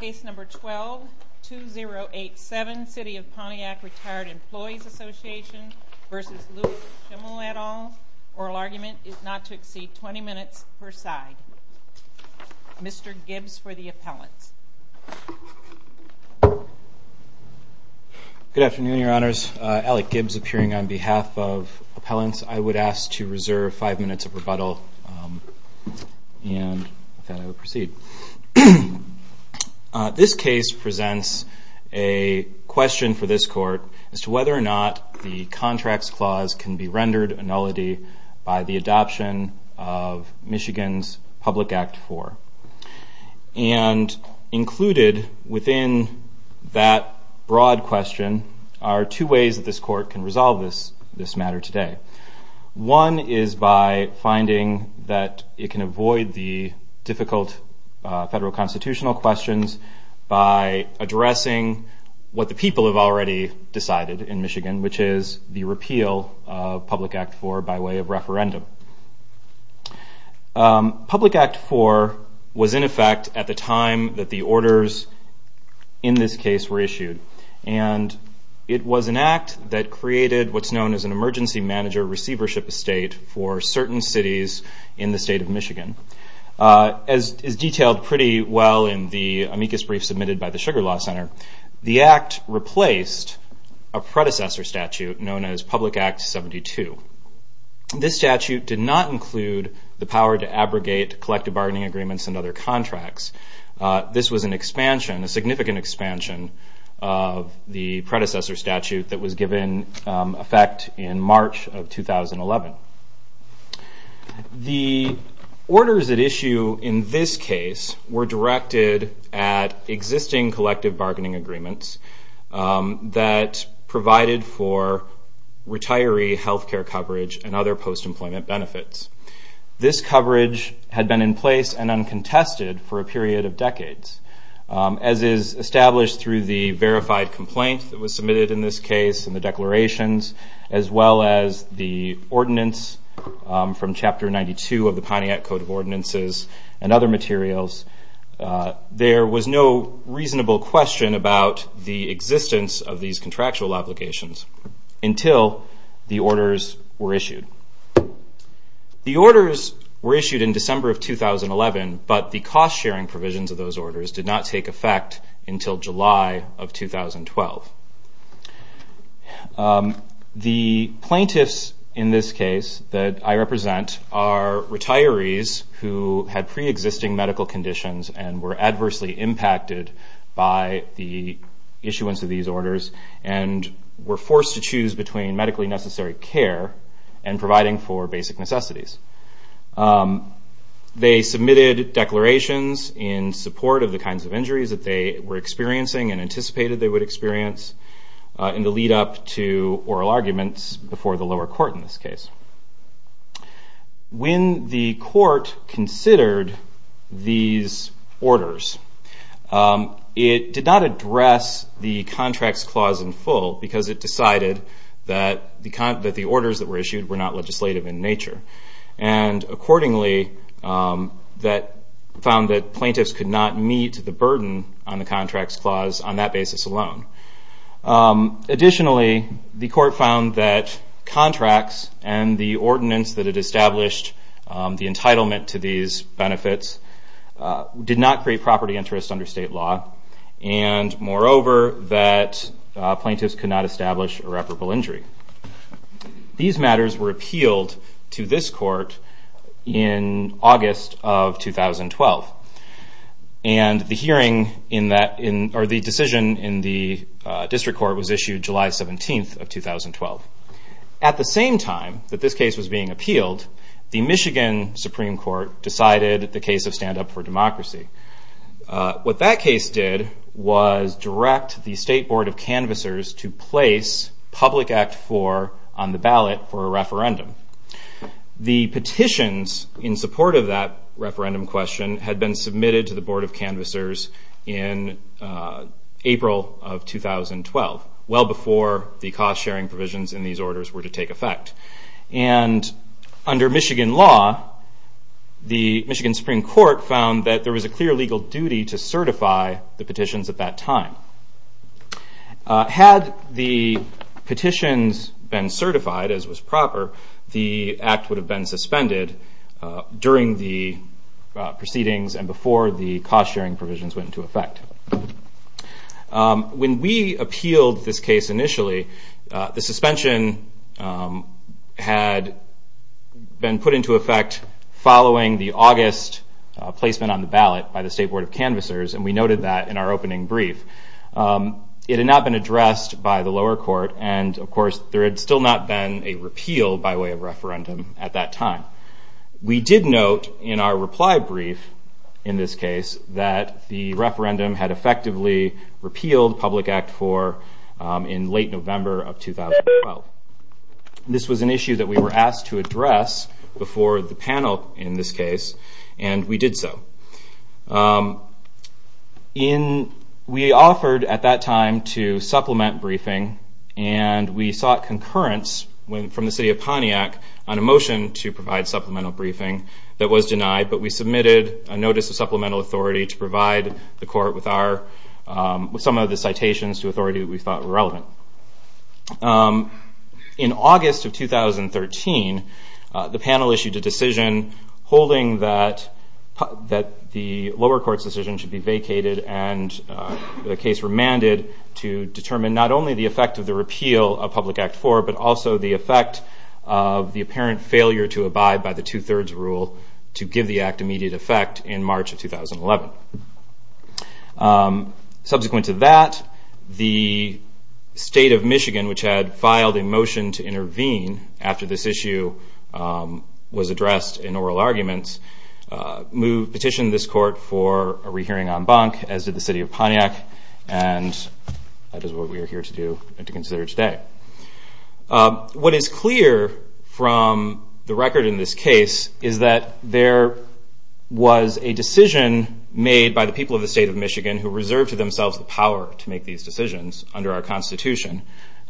Case number 12-2087, City of Pontiac Retired Employees Association v. Louis Schimmel et al. Oral argument is not to exceed 20 minutes per side. Mr. Gibbs for the appellant. Good afternoon, your honors. Alec Gibbs appearing on behalf of appellants. I would ask to reserve five minutes of rebuttal and proceed. This case presents a question for this court as to whether or not the contract's clause can be rendered a nullity by the adoption of Michigan's Public Act 4. And included within that broad question are two ways that this court can resolve this matter today. One is by finding that it can avoid the difficult federal constitutional questions by addressing what the people have already decided in Michigan, which is the repeal of Public Act 4 by way of referendum. Public Act 4 was in effect at the time that the orders in this case were issued. And it was an act that created what's known as an emergency manager receivership estate for certain cities in the state of Michigan. As detailed pretty well in the amicus brief submitted by the Sugar Law Center, the act replaced a predecessor statute known as Public Act 72. This statute did not include the power to abrogate collective bargaining agreements and other contracts. This was an expansion, a significant expansion of the predecessor statute that was given effect in March of 2011. The orders at issue in this case were directed at existing collective bargaining agreements that provided for retiree health care coverage and other post-employment benefits. This coverage had been in place and uncontested for a period of decades, as is established through the verified complaints that were submitted in this case and the declarations, as well as the ordinance from Chapter 92 of the Pontiac Code of Ordinances and other materials. There was no reasonable question about the existence of these contractual applications until the orders were issued. The orders were issued in December of 2011, but the cost-sharing provisions of those orders did not take effect until July of 2012. The plaintiffs in this case that I represent are retirees who had pre-existing medical conditions and were adversely impacted by the issuance of these orders and were forced to choose between medically necessary care and providing for basic necessities. They submitted declarations in support of the kinds of injuries that they were experiencing and anticipated they would experience in the lead-up to oral arguments before the lower court in this case. When the court considered these orders, it did not address the contracts clause in full because it decided that the orders that were issued were not legislative in nature and accordingly found that plaintiffs could not meet the burden on the contracts clause on that basis alone. Additionally, the court found that contracts and the ordinance that it established, the entitlement to these benefits, did not create property interests under state law and moreover that plaintiffs could not establish irreparable injury. These matters were appealed to this court in August of 2012 and the decision in the district court was issued July 17th of 2012. At the same time that this case was being appealed, the Michigan Supreme Court decided the case of Stand Up for Democracy. What that case did was direct the State Board of Canvassers to place Public Act 4 on the ballot for a referendum. The petitions in support of that referendum question had been submitted to the Board of Canvassers in April of 2012, well before the cost-sharing provisions in these orders were to take effect. Under Michigan law, the Michigan Supreme Court found that there was a clear legal duty to certify the petitions at that time. Had the petitions been certified as was proper, the act would have been suspended during the proceedings and before the cost-sharing provisions went into effect. When we appealed this case initially, the suspension had been put into effect following the August placement on the ballot by the State Board of Canvassers and we noted that in our opening brief. It had not been addressed by the lower court and, of course, there had still not been a repeal by way of referendum at that time. We did note in our reply brief in this case that the referendum had effectively repealed Public Act 4 in late November of 2012. This was an issue that we were asked to address before the panel in this case and we did so. We offered at that time to supplement briefing and we sought concurrence from the City of Pontiac on a motion to provide supplemental briefing that was denied, but we submitted a notice of supplemental authority to provide the court with some of the citations to authority that we thought were relevant. In August of 2013, the panel issued a decision holding that the lower court's decision should be vacated and the case remanded to determine not only the effect of the repeal of Public Act 4, but also the effect of the apparent failure to abide by the two-thirds rule to give the act immediate effect in March of 2011. Subsequent to that, the State of Michigan, which had filed a motion to intervene after this issue was addressed in oral arguments, petitioned this court for a rehearing en banc as did the City of Pontiac and that is what we are here to do and to consider today. What is clear from the record in this case is that there was a decision made by the people of the State of Michigan who reserved to themselves the power to make these decisions under our Constitution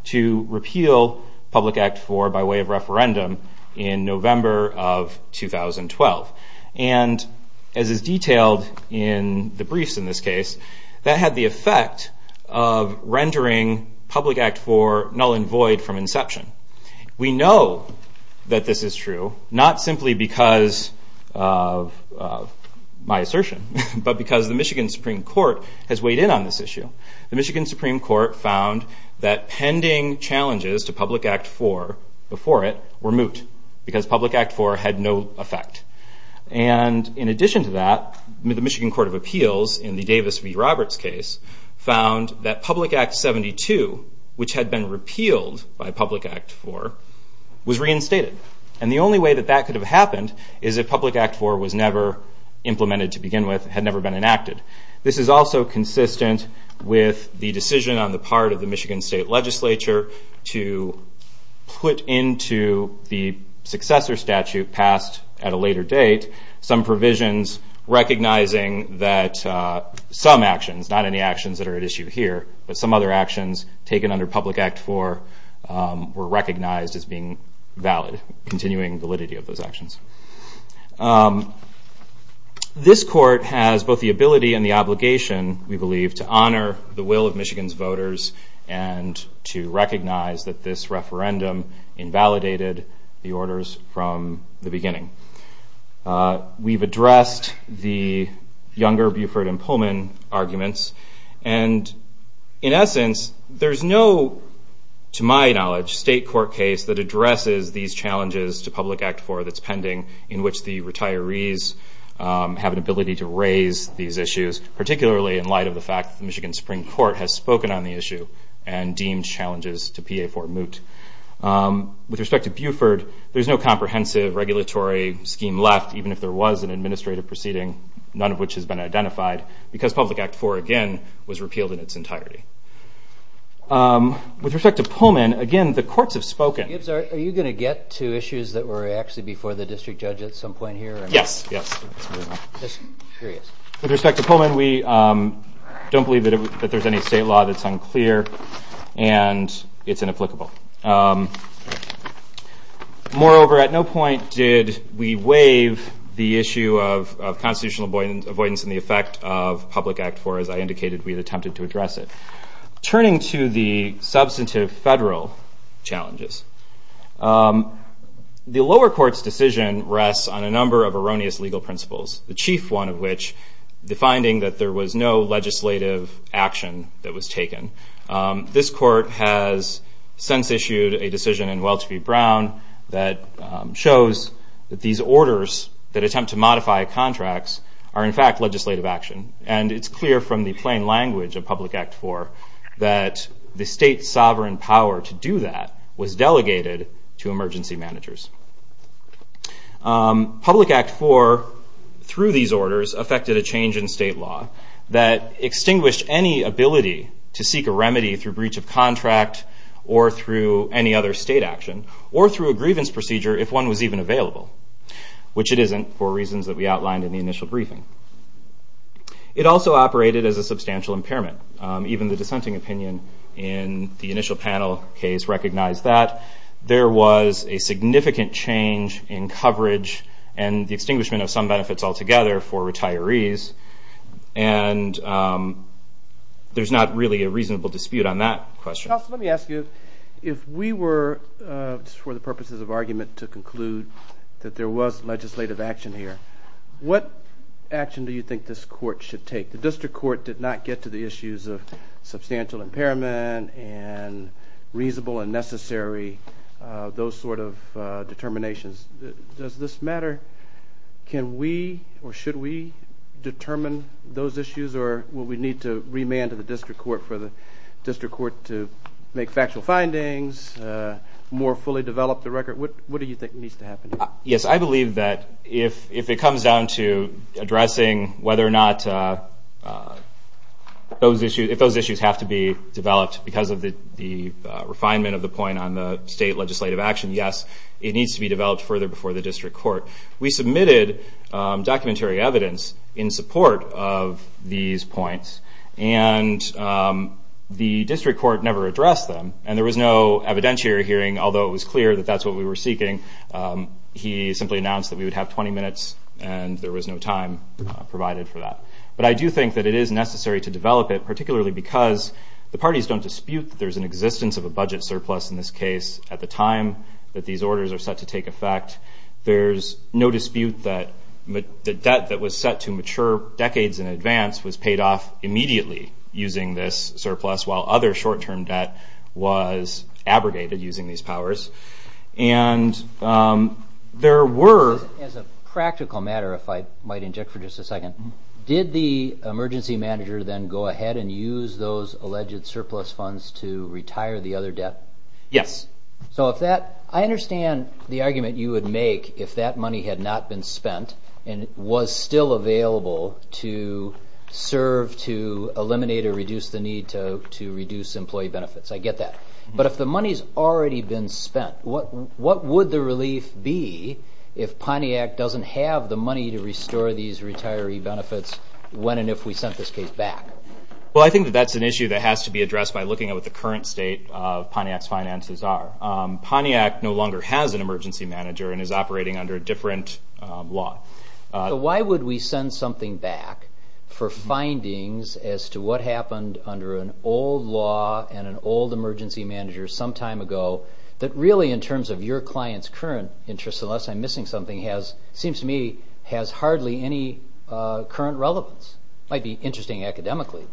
to repeal Public Act 4 by way of referendum in November of 2012. And as is detailed in the briefs in this case, that had the effect of rendering Public Act 4 null and void from inception. We know that this is true not simply because of my assertion, but because the Michigan Supreme Court has weighed in on this issue. The Michigan Supreme Court found that pending challenges to Public Act 4 before it were moot because Public Act 4 had no effect. And in addition to that, the Michigan Court of Appeals in the Davis v. Roberts case found that Public Act 72, which had been repealed by Public Act 4, was reinstated. And the only way that that could have happened is if Public Act 4 was never implemented to begin with, had never been enacted. This is also consistent with the decision on the part of the Michigan State Legislature to put into the successor statute passed at a later date some provisions recognizing that some actions, not any actions that are at issue here, but some other actions taken under Public Act 4 were recognized as being valid, continuing validity of those actions. This court has both the ability and the obligation, we believe, to honor the will of Michigan's voters and to recognize that this referendum invalidated the orders from the beginning. We've addressed the Younger, Buford, and Pullman arguments. And in essence, there's no, to my knowledge, state court case that addresses these challenges to Public Act 4 that's pending in which the retirees have an ability to raise these issues, particularly in light of the fact that the Michigan Supreme Court has spoken on the issue and deemed challenges to PA 4 moot. With respect to Buford, there's no comprehensive regulatory scheme left, even if there was an administrative proceeding, none of which has been identified, because Public Act 4, again, was repealed in its entirety. With respect to Pullman, again, the courts have spoken. Are you going to get to issues that were actually before the district judge at some point here? Yes. With respect to Pullman, we don't believe that there's any state law that's unclear and it's inapplicable. Moreover, at no point did we waive the issue of constitutional avoidance in the effect of Public Act 4, as I indicated we had attempted to address it. Turning to the substantive federal challenges, the lower court's decision rests on a number of erroneous legal principles, the chief one of which defining that there was no legislative action that was taken. This court has since issued a decision in Welch v. Brown that shows that these orders that attempt to modify contracts are, in fact, legislative action. And it's clear from the plain language of Public Act 4 that the state sovereign power to do that was delegated to emergency managers. Public Act 4, through these orders, affected a change in state law that extinguished any ability to seek a remedy through breach of contract or through any other state action or through a grievance procedure if one was even available, which it isn't for reasons that we outlined in the initial briefing. It also operated as a substantial impairment. Even the dissenting opinion in the initial panel case recognized that. There was a significant change in coverage and the extinguishment of some benefits altogether for retirees, and there's not really a reasonable dispute on that question. Let me ask you, if we were, for the purposes of argument, to conclude that there was legislative action here, what action do you think this court should take? The district court did not get to the issues of substantial impairment and reasonable and necessary, those sort of determinations. Does this matter? Can we or should we determine those issues? Or will we need to remand to the district court for the district court to make factual findings, more fully develop the record? What do you think needs to happen? Yes, I believe that if it comes down to addressing whether or not those issues have to be developed because of the refinement of the point on the state legislative action, yes, it needs to be developed further before the district court. We submitted documentary evidence in support of these points, and the district court never addressed them, and there was no evidentiary hearing, although it was clear that that's what we were seeking. He simply announced that we would have 20 minutes, and there was no time provided for that. But I do think that it is necessary to develop it, particularly because the parties don't dispute that there's an existence of a budget surplus in this case at the time that these orders are set to take effect. There's no dispute that the debt that was set to mature decades in advance was paid off immediately using this surplus, while other short-term debt was abrogated using these powers. As a practical matter, if I might interject for just a second, did the emergency manager then go ahead and use those alleged surplus funds to retire the other debt? Yes. So if that – I understand the argument you would make if that money had not been spent and was still available to serve to eliminate or reduce the need to reduce employee benefits. I get that. But if the money's already been spent, what would the relief be if Pontiac doesn't have the money to restore these retiree benefits when and if we sent this case back? Well, I think that that's an issue that has to be addressed by looking at what the current state of Pontiac's finances are. Pontiac no longer has an emergency manager and is operating under a different law. So why would we send something back for findings as to what happened under an old law and an old emergency manager some time ago that really in terms of your client's current interest, unless I'm missing something, seems to me has hardly any current relevance? It might be interesting academically.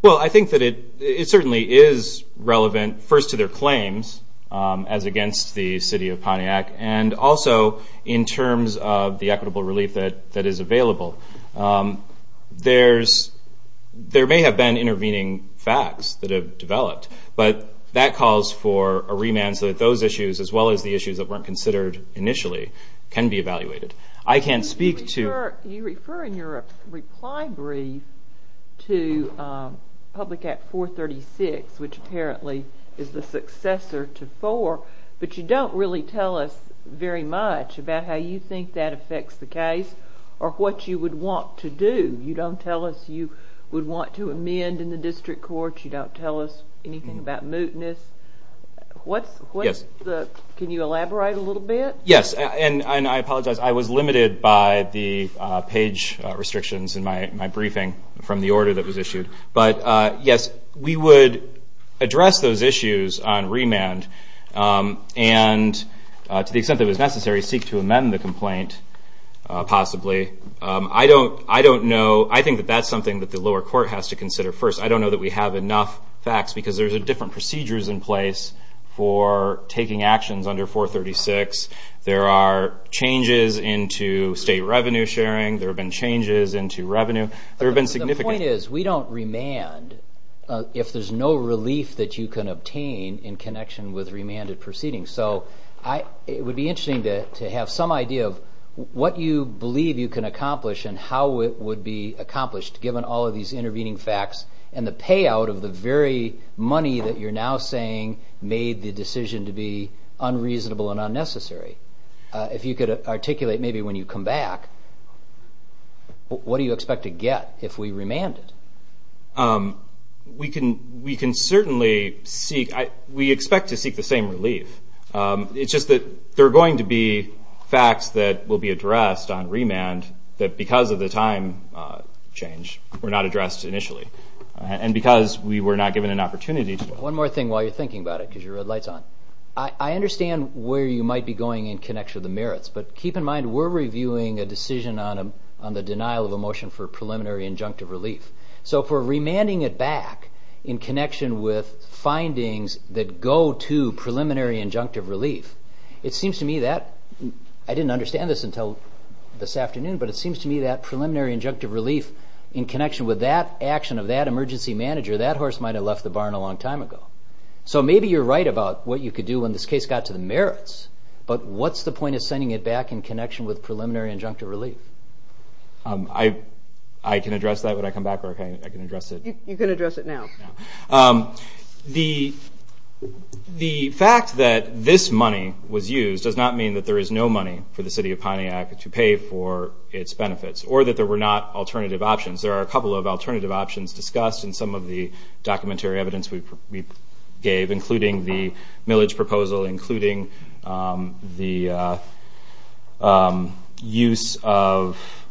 Well, I think that it certainly is relevant first to their claims as against the city of Pontiac and also in terms of the equitable relief that is available. There may have been intervening facts that have developed, but that calls for a remand so that those issues as well as the issues that weren't considered initially can be evaluated. I can't speak to – You refer in your reply brief to Public Act 436, which apparently is the successor to 4, but you don't really tell us very much about how you think that affects the case or what you would want to do. You don't tell us you would want to amend in the district court. You don't tell us anything about mootness. Can you elaborate a little bit? Yes, and I apologize. I was limited by the page restrictions in my briefing from the order that was issued. But yes, we would address those issues on remand and to the extent that it was necessary, seek to amend the complaint possibly. I don't know. I think that that's something that the lower court has to consider first. I don't know that we have enough facts because there's different procedures in place for taking actions under 436. There are changes into state revenue sharing. There have been changes into revenue. There have been significant – The point is we don't remand if there's no relief that you can obtain in connection with remanded proceedings. So it would be interesting to have some idea of what you believe you can accomplish and how it would be accomplished given all of these intervening facts and the payout of the very money that you're now saying made the decision to be unreasonable and unnecessary. If you could articulate maybe when you come back, what do you expect to get if we remand it? We can certainly seek – we expect to seek the same relief. It's just that there are going to be facts that will be addressed on remand that because of the time change were not addressed initially and because we were not given an opportunity to. One more thing while you're thinking about it because your red light's on. I understand where you might be going in connection with the merits, but keep in mind we're reviewing a decision on the denial of a motion for preliminary injunctive relief. So if we're remanding it back in connection with findings that go to preliminary injunctive relief, it seems to me that – I didn't understand this until this afternoon, but it seems to me that preliminary injunctive relief in connection with that action of that emergency manager, that horse might have left the barn a long time ago. So maybe you're right about what you could do when this case got to the merits, but what's the point of sending it back in connection with preliminary injunctive relief? I can address that when I come back or I can address it. You can address it now. The fact that this money was used does not mean that there is no money for the City of Pontiac to pay for its benefits or that there were not alternative options. There are a couple of alternative options discussed in some of the documentary evidence we gave, including the millage proposal, including the use of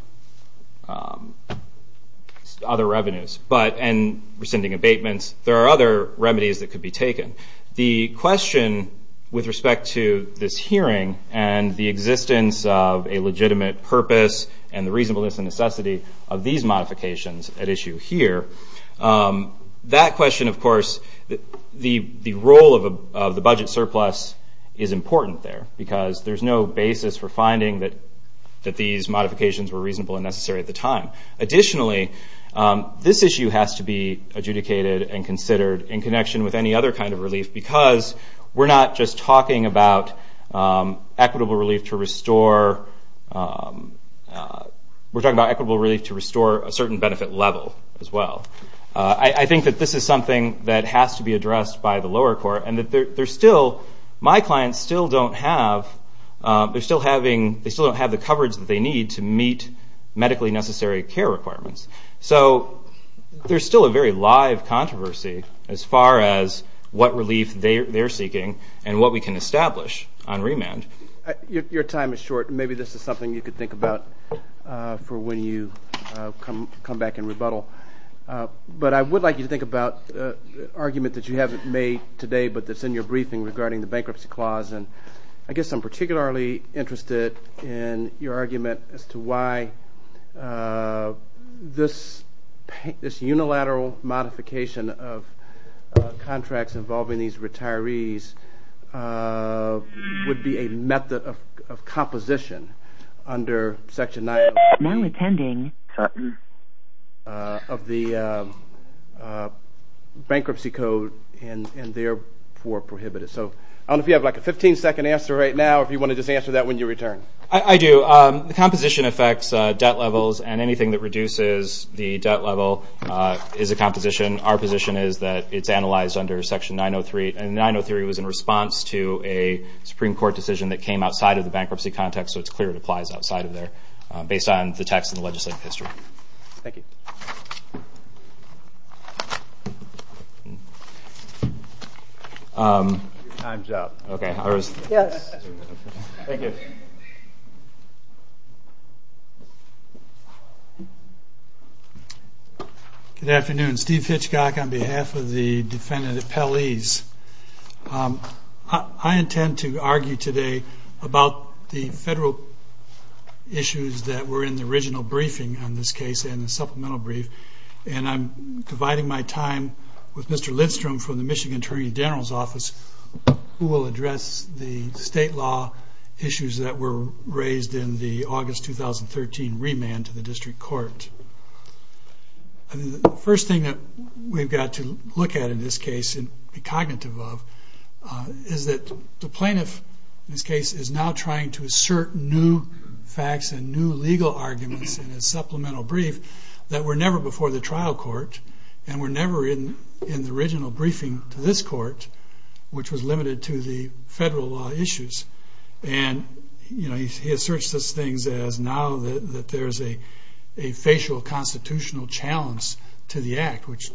other revenues and rescinding abatements. There are other remedies that could be taken. The question with respect to this hearing and the existence of a legitimate purpose and the reasonableness and necessity of these modifications at issue here, that question, of course, the role of the budget surplus is important there because there's no basis for finding that these modifications were reasonable and necessary at the time. Additionally, this issue has to be adjudicated and considered in connection with any other kind of relief because we're not just talking about equitable relief to restore a certain benefit level as well. I think that this is something that has to be addressed by the lower court and my clients still don't have the coverage that they need to meet medically necessary care requirements. There's still a very live controversy as far as what relief they're seeking and what we can establish on remand. Your time is short. Maybe this is something you could think about for when you come back and rebuttal. But I would like you to think about an argument that you haven't made today but that's in your briefing regarding the bankruptcy clause. I guess I'm particularly interested in your argument as to why this unilateral modification of contracts involving these retirees would be a method of composition under Section 9 of the Bankruptcy Code and therefore prohibited. I don't know if you have a 15-second answer right now or if you want to just answer that when you return. I do. The composition affects debt levels and anything that reduces the debt level is a composition. Our position is that it's analyzed under Section 903 and 903 was in response to a Supreme Court decision that came outside of the bankruptcy context so it's clear it applies outside of there based on the text of the legislative history. Thank you. Your time is up. Good afternoon. Steve Hitchcock on behalf of the defendant at Pelley's. I intend to argue today about the federal issues that were in the original briefing in this case and the supplemental brief and I'm dividing my time with Mr. Lindstrom from the Michigan Attorney General's Office who will address the state law issues that were raised in the August 2013 remand to the district court. The first thing that we've got to look at in this case and be cognitive of is that the plaintiff in this case is now trying to assert new facts and new legal arguments in his supplemental brief that were never before the trial court and were never in the original briefing to this court which was limited to the federal law issues and he asserts those things as now that there's a facial constitutional challenge to the act which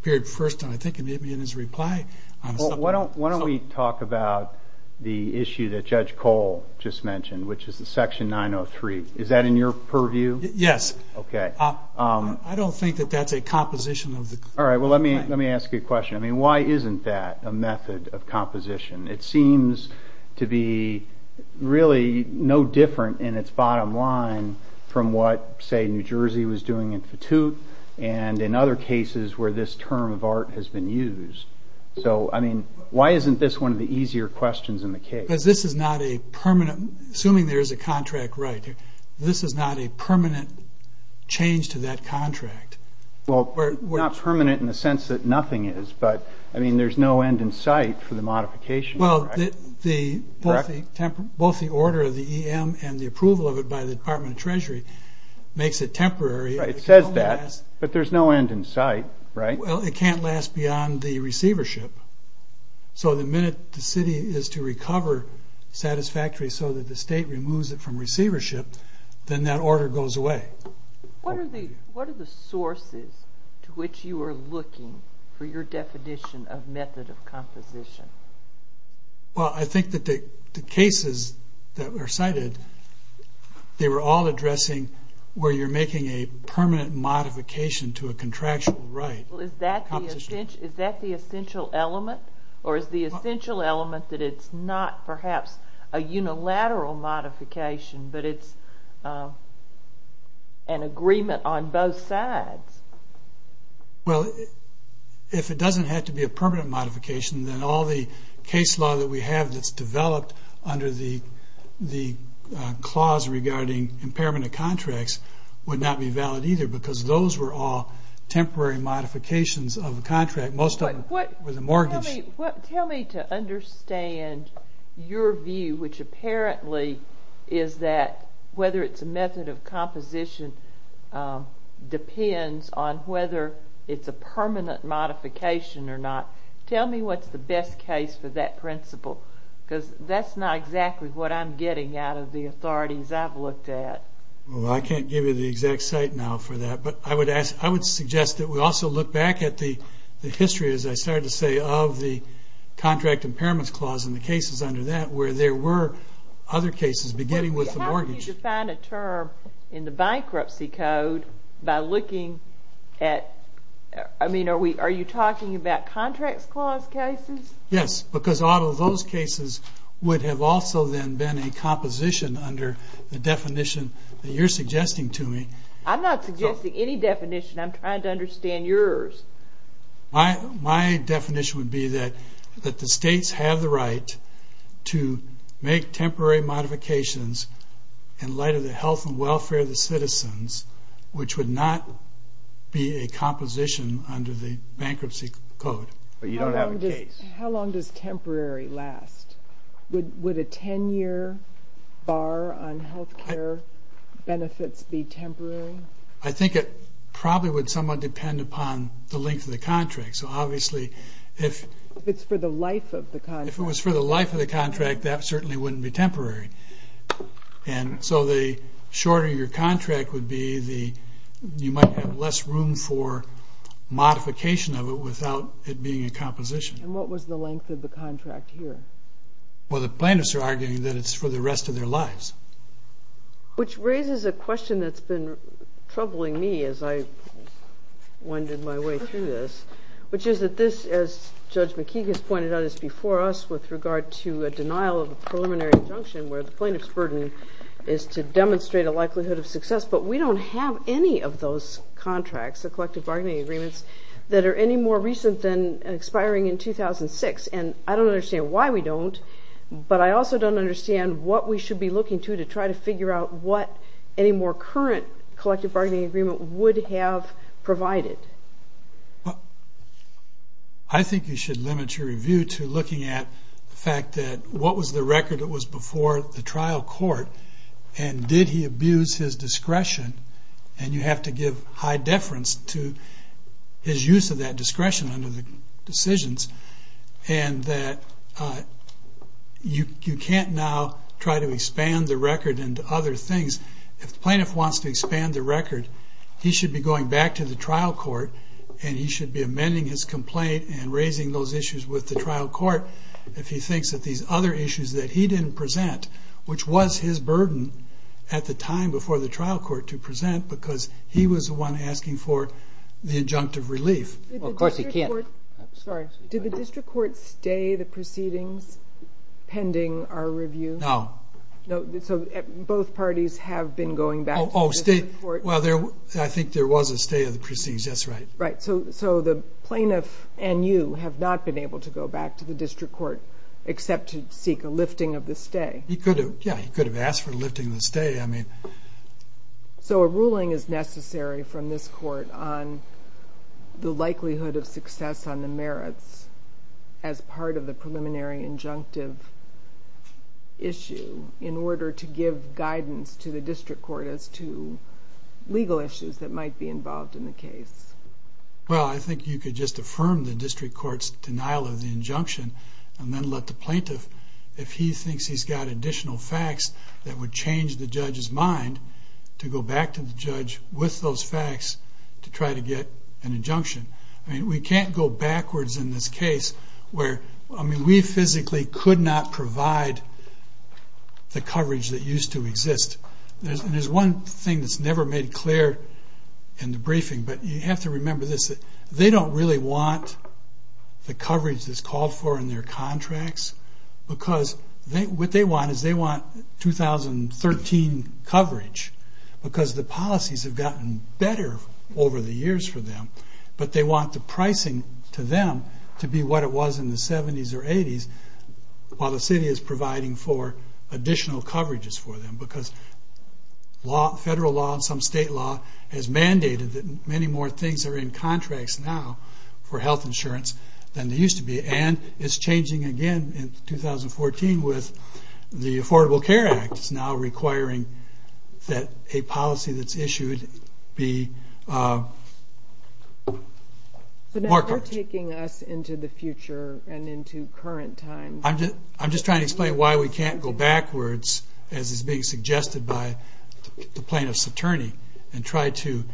appeared first and I think it may be in his reply. Why don't we talk about the issue that Judge Cole just mentioned which is the section 903. Is that in your purview? Yes. Okay. I don't think that that's a composition of the court. All right. Well, let me ask you a question. I mean, why isn't that a method of composition? It seems to be really no different in its bottom line from what, say, New Jersey was doing in Fatute and in other cases where this term of art has been used. So, I mean, why isn't this one of the easier questions in the case? Because this is not a permanent, assuming there is a contract right, this is not a permanent change to that contract. Well, not permanent in the sense that nothing is but, I mean, there's no end in sight for the modification. Well, both the order of the EM and the approval of it by the Department of Treasury makes it temporary. It says that, but there's no end in sight, right? Well, it can't last beyond the receivership. So the minute the city is to recover satisfactorily so that the state removes it from receivership, then that order goes away. What are the sources to which you are looking for your definition of method of composition? Well, I think that the cases that were cited, they were all addressing where you're making a permanent modification to a contractual right. Well, is that the essential element? Or is the essential element that it's not perhaps a unilateral modification, but it's an agreement on both sides? Well, if it doesn't have to be a permanent modification, then all the case law that we have that's developed under the clause regarding impairment of contracts would not be valid either, because those were all temporary modifications of the contract. Most of it was a mortgage. Tell me to understand your view, which apparently is that whether it's a method of composition depends on whether it's a permanent modification or not. Tell me what's the best case of that principle, because that's not exactly what I'm getting out of the authorities I've looked at. Well, I can't give you the exact site now for that. But I would suggest that we also look back at the history, as I started to say, of the contract impairments clause and the cases under that where there were other cases beginning with the mortgage. How would you define a term in the bankruptcy code by looking at, I mean, are you talking about contract clause cases? Yes, because a lot of those cases would have also then been in composition under the definition that you're suggesting to me. I'm not suggesting any definition. I'm trying to understand yours. My definition would be that the states have the right to make temporary modifications in light of the health and welfare of the citizens, which would not be a composition under the bankruptcy code. But you don't have a case. How long does temporary last? Would a 10-year bar on health care benefits be temporary? I think it probably would somewhat depend upon the length of the contract. So, obviously, if it was for the life of the contract, that certainly wouldn't be temporary. And so the shorter your contract would be, you might have less room for modification of it without it being a composition. And what was the length of the contract here? Well, the plaintiffs are arguing that it's for the rest of their lives. Which raises a question that's been troubling me as I wandered my way through this, which is that this, as Judge McKee has pointed out, is before us with regard to a denial of a preliminary assumption where the plaintiff's burden is to demonstrate a likelihood of success. But we don't have any of those contracts, the collective bargaining agreements, that are any more recent than expiring in 2006. And I don't understand why we don't, but I also don't understand what we should be looking to to try to figure out what any more current collective bargaining agreement would have provided. I think you should limit your review to looking at the fact that what was the record that was before the trial court and did he abuse his discretion, and you have to give high deference to his use of that discretion under the decisions, and that you can't now try to expand the record into other things. If the plaintiff wants to expand the record, he should be going back to the trial court and he should be amending his complaint and raising those issues with the trial court if he thinks that these other issues that he didn't present, which was his burden at the time before the trial court to present, because he was the one asking for the injunctive relief. Well, of course he can't. Sorry. Did the district court stay the proceedings pending our review? No. So both parties have been going back to the district court? Well, I think there was a stay of the proceedings. That's right. Right, so the plaintiff and you have not been able to go back to the district court except to seek a lifting of the stay. Yeah, he could have asked for a lifting of the stay. So a ruling is necessary from this court on the likelihood of success on the merits as part of the preliminary injunctive issue in order to give guidance to the district court as to legal issues that might be involved in the case. Well, I think you could just affirm the district court's denial of the injunction and then let the plaintiff, if he thinks he's got additional facts, that would change the judge's mind to go back to the judge with those facts to try to get an injunction. I mean, we can't go backwards in this case where, I mean, we physically could not provide the coverage that used to exist. There's one thing that's never made clear in the briefing, but you have to remember this. They don't really want the coverage that's called for in their contracts because what they want is they want 2013 coverage but they want the pricing to them to be what it was in the 70s or 80s while the city is providing for additional coverages for them because federal law and some state law has mandated that many more things are in contracts now for health insurance than they used to be. And it's changing again in 2014 with the Affordable Care Act that's now requiring that a policy that's issued be more coverage. They're taking us into the future and into current times. I'm just trying to explain why we can't go backwards as is being suggested by the plaintiff's attorney and try to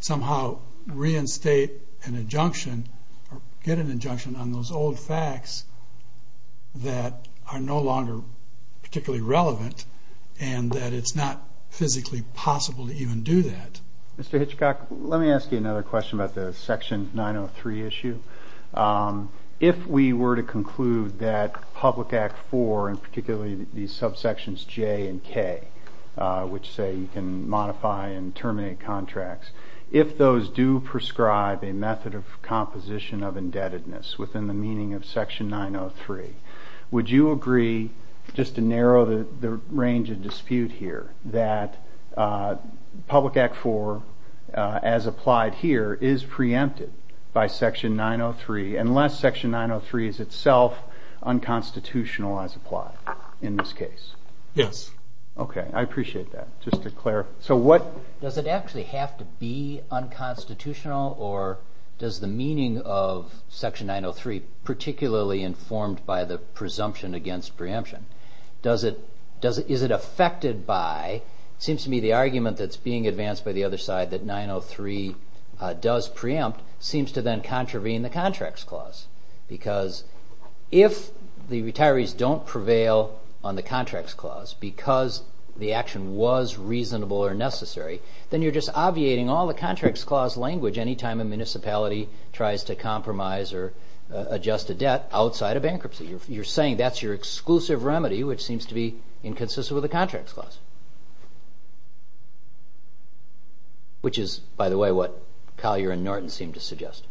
somehow reinstate an injunction or get an injunction on those old facts that are no longer particularly relevant and that it's not physically possible to even do that. Mr. Hitchcock, let me ask you another question about the Section 903 issue. If we were to conclude that Public Act 4, and particularly the subsections J and K, which say you can modify and terminate contracts, if those do prescribe a method of composition of indebtedness within the meaning of Section 903, would you agree, just to narrow the range of dispute here, that Public Act 4, as applied here, is preempted by Section 903 unless Section 903 is itself unconstitutional as applied in this case? Yes. Okay. I appreciate that. Just to clarify. Does it actually have to be unconstitutional or does the meaning of Section 903, particularly informed by the presumption against preemption, is it affected by, it seems to me the argument that's being advanced by the other side that 903 does preempt, seems to then contravene the Contracts Clause because if the retirees don't prevail on the Contracts Clause because the action was reasonable or necessary, then you're just obviating all the Contracts Clause language any time a municipality tries to compromise or adjust a debt outside of bankruptcy. You're saying that's your exclusive remedy, which seems to be inconsistent with the Contracts Clause, which is, by the way, what Collier and Norton seem to suggest.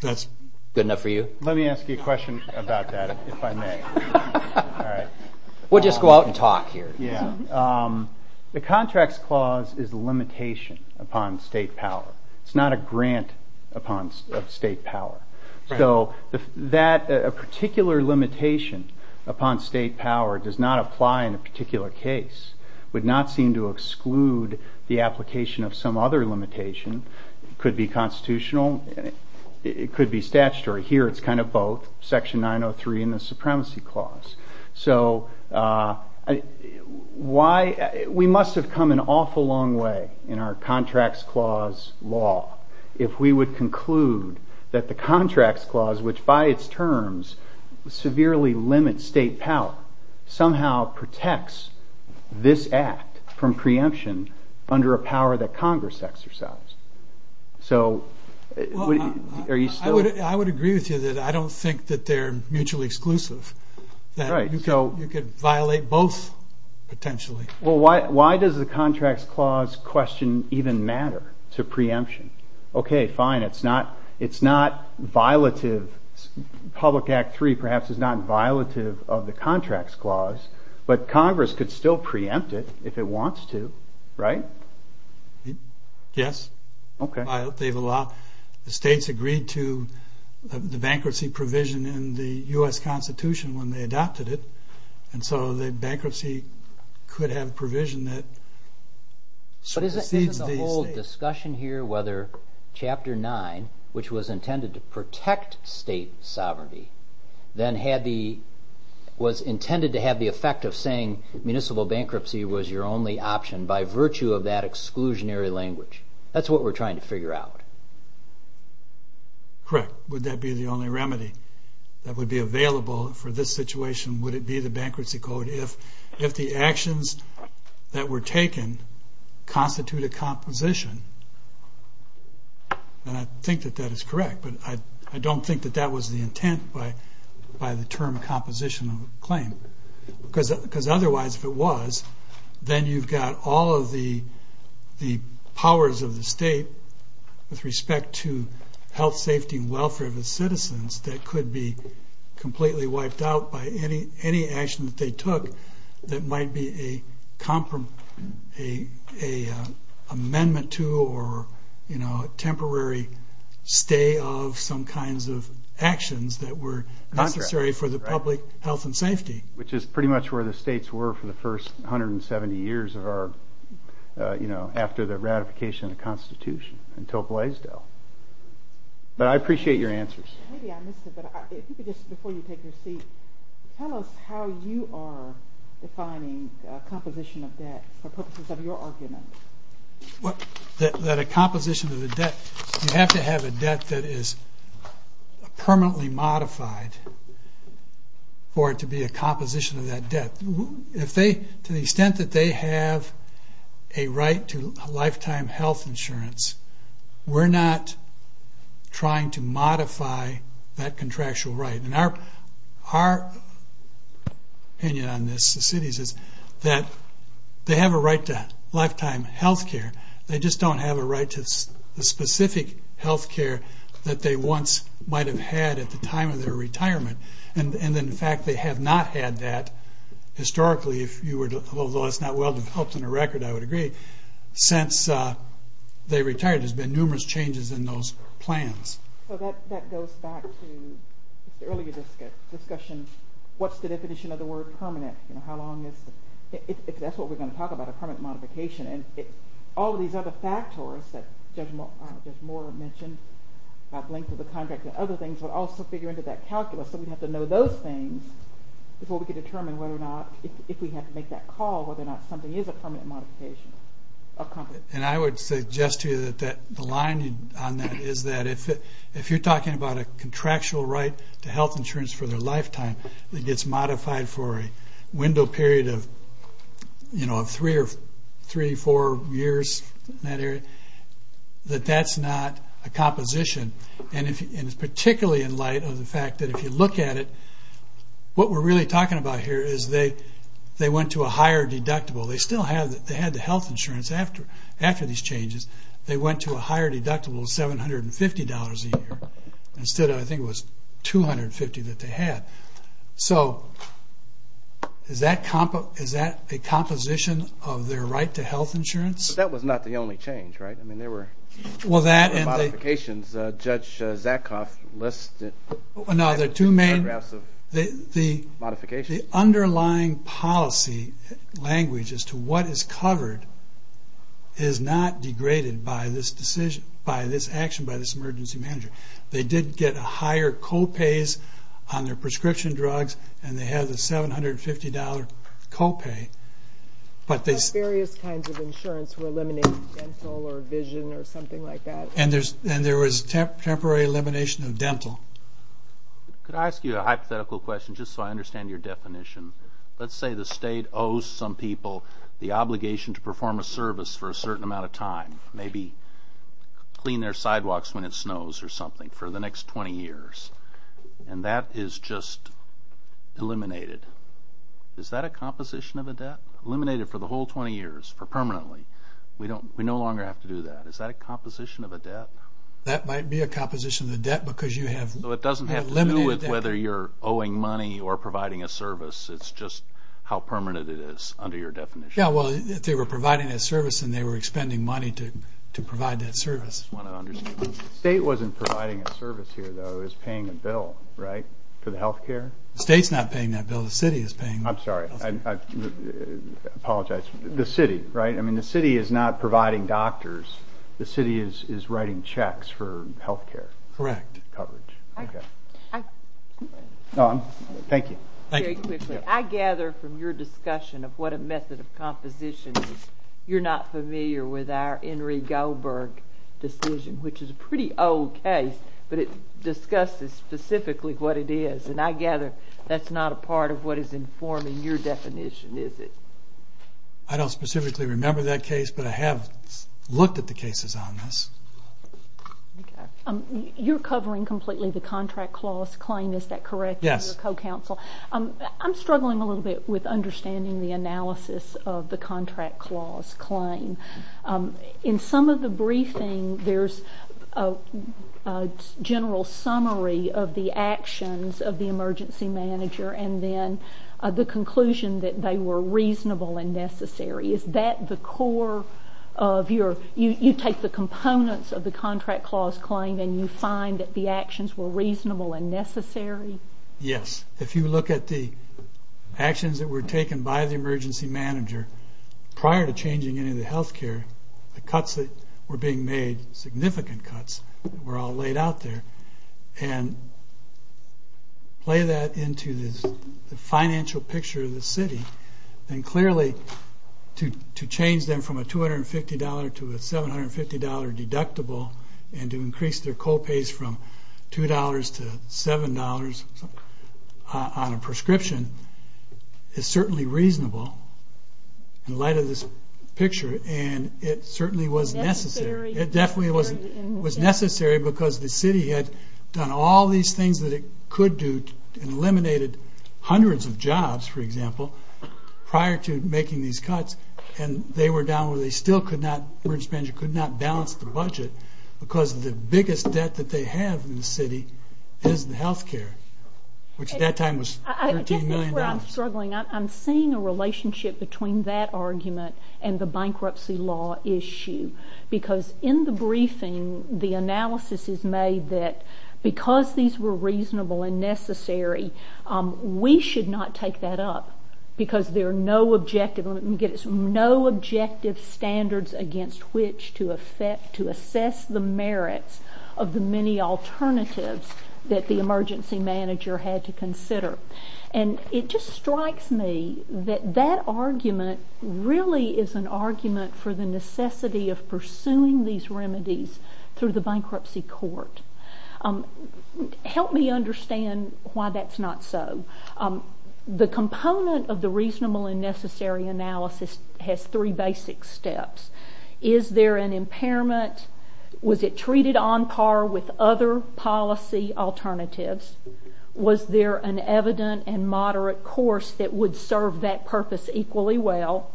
Good enough for you? Let me ask you a question about that, if I may. We'll just go out and talk here. The Contracts Clause is a limitation upon state power. It's not a grant upon state power. So that particular limitation upon state power does not apply in a particular case. It would not seem to exclude the application of some other limitation. It could be constitutional. It could be statutory. Here it's kind of both, Section 903 and the Supremacy Clause. We must have come an awful long way in our Contracts Clause law if we would conclude that the Contracts Clause, which by its terms severely limits state power, somehow protects this act from preemption under a power that Congress exercised. I would agree with you that I don't think that they're mutually exclusive. So you could violate both potentially. Well, why does the Contracts Clause question even matter to preemption? Okay, fine. It's not violative. Public Act 3 perhaps is not violative of the Contracts Clause, but Congress could still preempt it if it wants to, right? Yes. Okay. The states agreed to the bankruptcy provision in the U.S. Constitution when they adopted it, and so the bankruptcy could have provision that... But isn't the whole discussion here whether Chapter 9, which was intended to protect state sovereignty, then was intended to have the effect of saying municipal bankruptcy was your only option by virtue of that exclusionary language? That's what we're trying to figure out. Correct. Would that be the only remedy that would be available for this situation? Would it be the Bankruptcy Code if the actions that were taken constitute a composition? And I think that that is correct, but I don't think that that was the intent by the term composition of the claim. Because otherwise, if it was, then you've got all of the powers of the state with respect to health, safety, and welfare of its citizens that could be completely wiped out by any action that they took that might be a amendment to or a temporary stay of some kinds of actions that were necessary for the public health and safety. Which is pretty much where the states were for the first 170 years of our... you know, after the ratification of the Constitution until Glaisdell. But I appreciate your answers. Maybe I missed it, but I think it is before you take your seat. Tell us how you are defining a composition of debt for purposes of your argument. That a composition of the debt... We don't have a debt that is permanently modified for it to be a composition of that debt. To the extent that they have a right to a lifetime health insurance, we're not trying to modify that contractual right. And our opinion on this, the city's, is that they have a right to lifetime healthcare. They just don't have a right to the specific healthcare that they once might have had at the time of their retirement. And in fact, they have not had that historically, although it's not well-developed in the record, I would agree, since they retired. There's been numerous changes in those plans. So that goes back to the earlier discussion. What's the definition of the word permanent? How long is... If that's what we're going to talk about, a permanent modification, and all of these other factors, there's more to mention, length of the contract and other things, we'll also figure into that calculus. So we have to know those things before we can determine whether or not, if we have to make that call, whether or not something is a permanent modification. And I would suggest to you that the line on that is that if you're talking about a contractual right to health insurance for their lifetime, it gets modified for a window period of, you know, three or four years in that area, that that's not a composition. And it's particularly in light of the fact that if you look at it, what we're really talking about here is they went to a higher deductible. They still had the health insurance after these changes. They went to a higher deductible of $750 a year. Instead, I think it was $250 that they had. So is that a composition of their right to health insurance? But that was not the only change, right? I mean, there were... Well, that and the... ...modifications that Judge Zakoff listed... No, the two main... ...modifications... The underlying policy language as to what is covered is not degraded by this decision, by this action, by this emergency manager. They did get higher co-pays on their prescription drugs, and they had a $750 co-pay. But they... Various kinds of insurance to eliminate dental or vision or something like that. And there was temporary elimination of dental. Could I ask you a hypothetical question just so I understand your definition? Let's say the state owes some people the obligation to perform a service for a certain amount of time, maybe clean their sidewalks when it snows or something for the next 20 years, and that is just eliminated. Is that a composition of a debt? Eliminated for the whole 20 years, for permanently. We no longer have to do that. Is that a composition of a debt? That might be a composition of a debt because you have... So it doesn't have to do with whether you're owing money or providing a service. It's just how permanent it is under your definition. Yeah, well, if they were providing a service and they were expending money to provide that service. I just want to understand. The state wasn't providing a service here, though. It was paying a bill, right, for the health care? The state's not paying that bill. The city is paying that bill. I'm sorry. I apologize. The city, right? I mean, the city is not providing doctors. The city is writing checks for health care coverage. Correct. Okay. Dawn, thank you. Very quickly. I gather from your discussion of what a method of composition is, you're not familiar with our Henry Goldberg decision, which is a pretty old case, but it discusses specifically what it is. And I gather that's not a part of what is informing your definition, is it? I don't specifically remember that case, but I have looked at the cases on this. You're covering completely the contract clause claim. Is that correct? Yes. I'm struggling a little bit with understanding the analysis of the contract clause claim. In some of the briefing, there's a general summary of the actions of the emergency manager and then the conclusion that they were reasonable and necessary. Is that the core of your – you take the components of the contract clause claim and you find that the actions were reasonable and necessary? Yes. If you look at the actions that were taken by the emergency manager prior to changing any of the health care, the cuts that were being made, significant cuts were all laid out there, and play that into the financial picture of the city, and clearly to change them from a $250 to a $750 deductible and to increase their co-pays from $2 to $7 on a prescription is certainly reasonable in light of this picture, and it certainly was necessary. It definitely was necessary because the city had done all these things that it could do and eliminated hundreds of jobs, for example, prior to making these cuts, and they were down where they still could not – the emergency manager could not balance the budget because the biggest debt that they have in the city is the health care, which at that time was $15 million. I think that's where I'm struggling. I'm seeing a relationship between that argument and the bankruptcy law issue because in the briefing, the analysis is made that because these were reasonable and necessary, we should not take that up because there are no objective standards against which to assess the merits of the many alternatives that the emergency manager had to consider, and it just strikes me that that argument really is an argument for the necessity of pursuing these remedies through the bankruptcy court. Help me understand why that's not so. The component of the reasonable and necessary analysis has three basic steps. Is there an impairment? Was it treated on par with other policy alternatives? Was there an evident and moderate course that would serve that purpose equally well?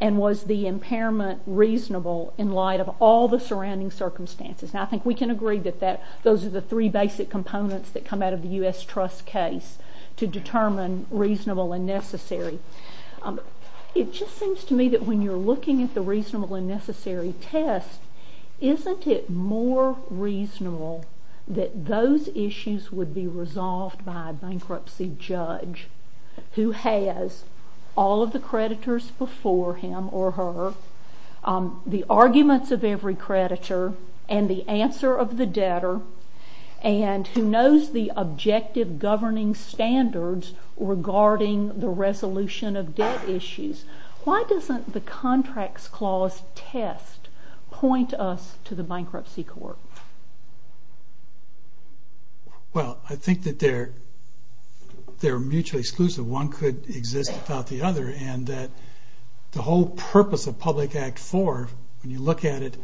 And was the impairment reasonable in light of all the surrounding circumstances? I think we can agree that those are the three basic components that come out of the U.S. trust case to determine reasonable and necessary. It just seems to me that when you're looking at the reasonable and necessary test, isn't it more reasonable that those issues would be resolved by a bankruptcy judge who has all of the creditors before him or her, the arguments of every creditor, and the answer of the debtor, and who knows the objective governing standards regarding the resolution of debt issues? Why doesn't the contracts clause test point us to the bankruptcy court? Well, I think that they're mutually exclusive. One could exist without the other. And the whole purpose of Public Act 4, when you look at it,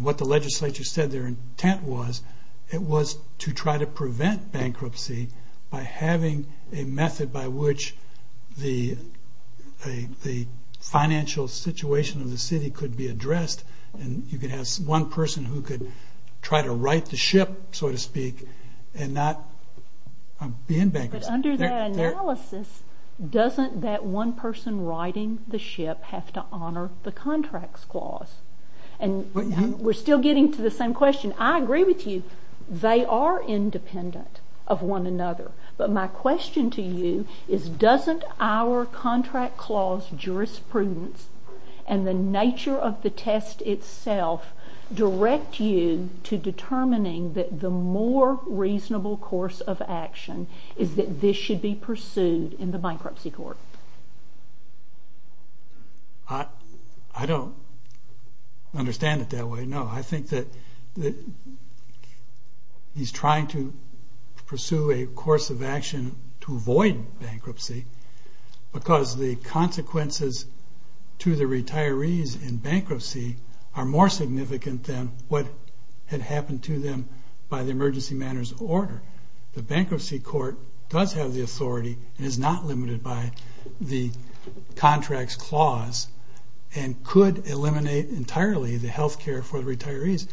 what the legislature said their intent was, it was to try to prevent bankruptcy by having a method by which the financial situation of the city could be addressed. And you could have one person who could try to right the ship, so to speak, and not be in bankruptcy. But under that analysis, doesn't that one person righting the ship have to honor the contracts clause? And we're still getting to the same question. I agree with you. They are independent of one another. But my question to you is, doesn't our contract clause jurisprudence and the nature of the test itself direct you to determining that the more reasonable course of action is that this should be pursued in the bankruptcy court? I don't understand it that way, no. I think that he's trying to pursue a course of action to avoid bankruptcy because the consequences to the retirees in bankruptcy are more significant than what had happened to them by the emergency matters order. The bankruptcy court does have the authority and is not limited by the contracts clause and could eliminate entirely the health care for the retirees.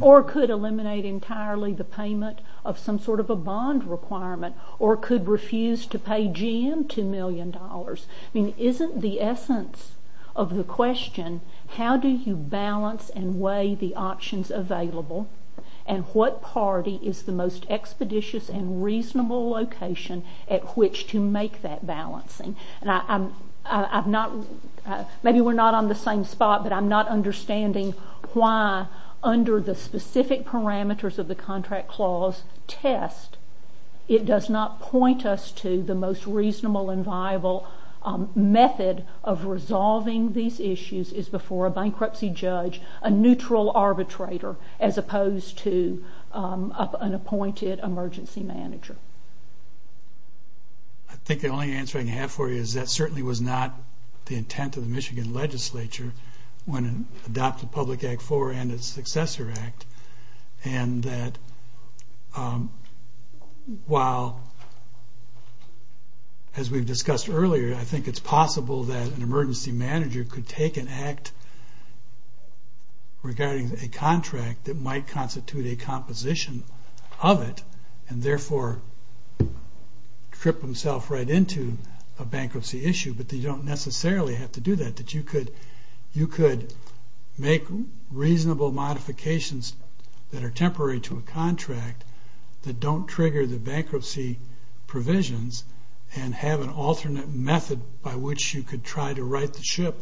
Or could eliminate entirely the payment of some sort of a bond requirement or could refuse to pay GM $2 million. I mean, isn't the essence of the question, how do you balance and weigh the options available and what party is the most expeditious and reasonable location at which to make that balancing? Maybe we're not on the same spot, but I'm not understanding why under the specific parameters of the contract clause test, it does not point us to the most reasonable and viable method of resolving these issues is before a bankruptcy judge, a neutral arbitrator, as opposed to an appointed emergency manager. I think the only answer I can have for you is that certainly was not the intent of the Michigan legislature when it adopted Public Act 4 and its successor act. And that while, as we've discussed earlier, I think it's possible that an emergency manager could take an act regarding a contract that might constitute a composition of it and therefore trip himself right into a bankruptcy issue, but they don't necessarily have to do that. That you could make reasonable modifications that are temporary to a contract that don't trigger the bankruptcy provisions and have an alternate method by which you could try to right the ship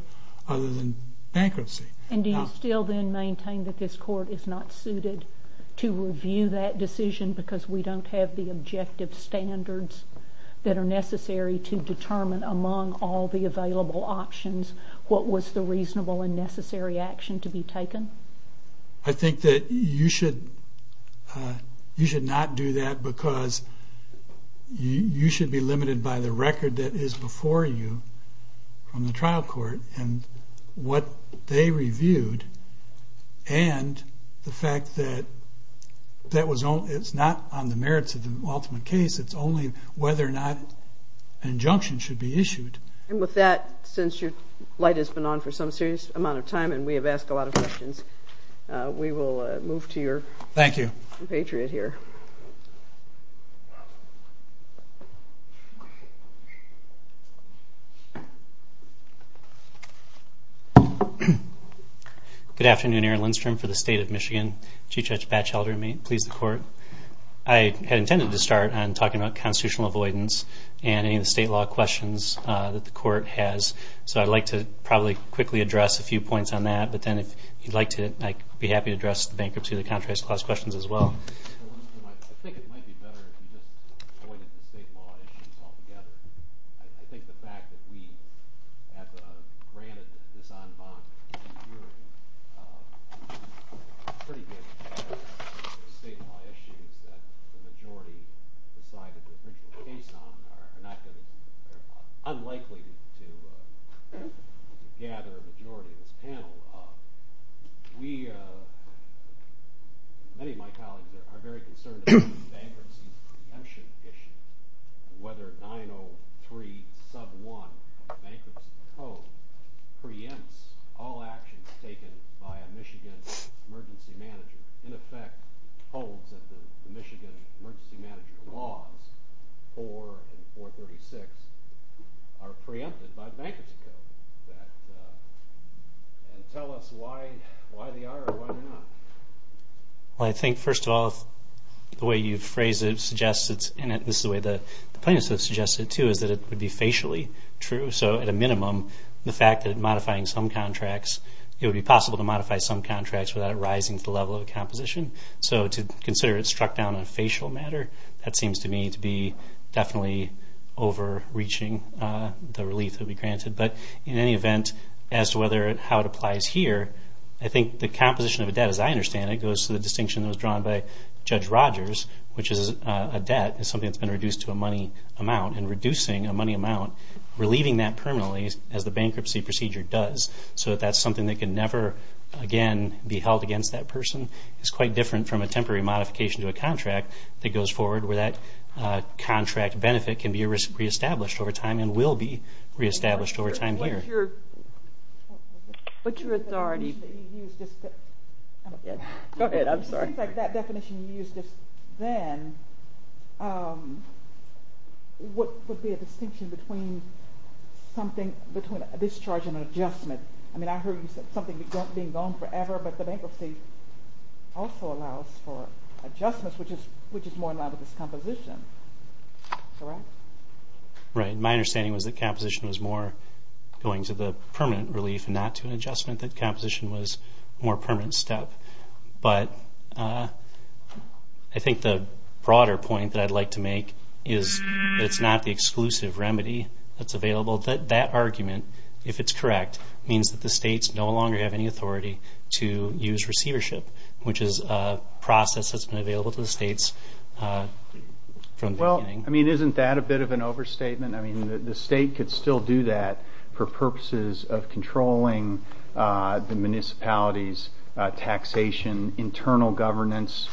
other than bankruptcy. And do you still then maintain that this court is not suited to review that decision because we don't have the objective standards that are necessary to determine, among all the available options, what was the reasonable and necessary action to be taken? I think that you should not do that because you should be limited by the record that is before you from the trial court and what they reviewed and the fact that it's not on the merits of the ultimate case. It's only whether or not an injunction should be issued. And with that, since your light has been on for some serious amount of time and we have asked a lot of questions, we will move to your compatriot here. Good afternoon. Aaron Lindstrom for the State of Michigan. Chief Judge Batchelder. May it please the Court. I had intended to start on talking about constitutional avoidance and any of the state law questions that the Court has, so I'd like to probably quickly address a few points on that. But then if you'd like to, I'd be happy to address the bankruptcy and the contract clause questions as well. To gather the majority of the panel, many of my colleagues are very concerned about the bankruptcy prevention issue, whether 903 sub 1, bankruptcy proposed, preempts all actions taken by a Michigan emergency manager. In effect, all of the Michigan emergency manager laws, 4 and 436, are preempted by the bankruptcy code. Tell us why they are and why they're not. Well, I think, first of all, the way you've phrased it, and this is the way the plaintiffs have suggested it too, is that it would be facially true. So at a minimum, the fact that modifying some contracts, it would be possible to modify some contracts without it rising to the level of a composition. So to consider it struck down on a facial matter, that seems to me to be definitely overreaching the relief that we granted. But in any event, as to how it applies here, I think the composition of a debt, as I understand it, goes to the distinction that was drawn by Judge Rogers, which is a debt is something that's been reduced to a money amount and reducing a money amount, relieving that permanently as the bankruptcy procedure does. So that's something that can never again be held against that person. It's quite different from a temporary modification to a contract that goes forward where that contract benefit can be re-established over time and will be re-established over time later. Go ahead, I'm sorry. That definition you used just then, what would be a distinction between something, between a discharge and an adjustment? I mean, I heard you say something being gone forever, but the bankruptcy also allows for adjustments, which is more now that it's composition. Correct? Right. My understanding was that composition was more going to the permanent relief and not to an adjustment, that composition was more permanent stuff. But I think the broader point that I'd like to make is that it's not the exclusive remedy that's available. That argument, if it's correct, means that the states no longer have any authority to use receivership, which is a process that's been available to the states from the beginning. Well, I mean, isn't that a bit of an overstatement? I mean, the state could still do that for purposes of controlling the municipalities, taxation, internal governance,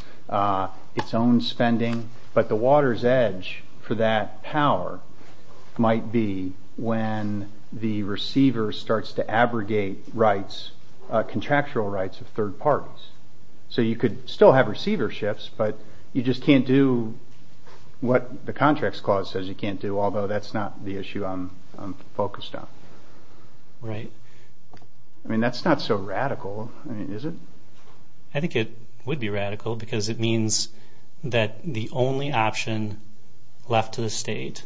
its own spending. But the water's edge for that power might be when the receiver starts to abrogate rights, contractual rights of third parties. So you could still have receiverships, but you just can't do what the contracts clause says you can't do, although that's not the issue I'm focused on. Right. I mean, that's not so radical, is it? I think it would be radical because it means that the only option left to the state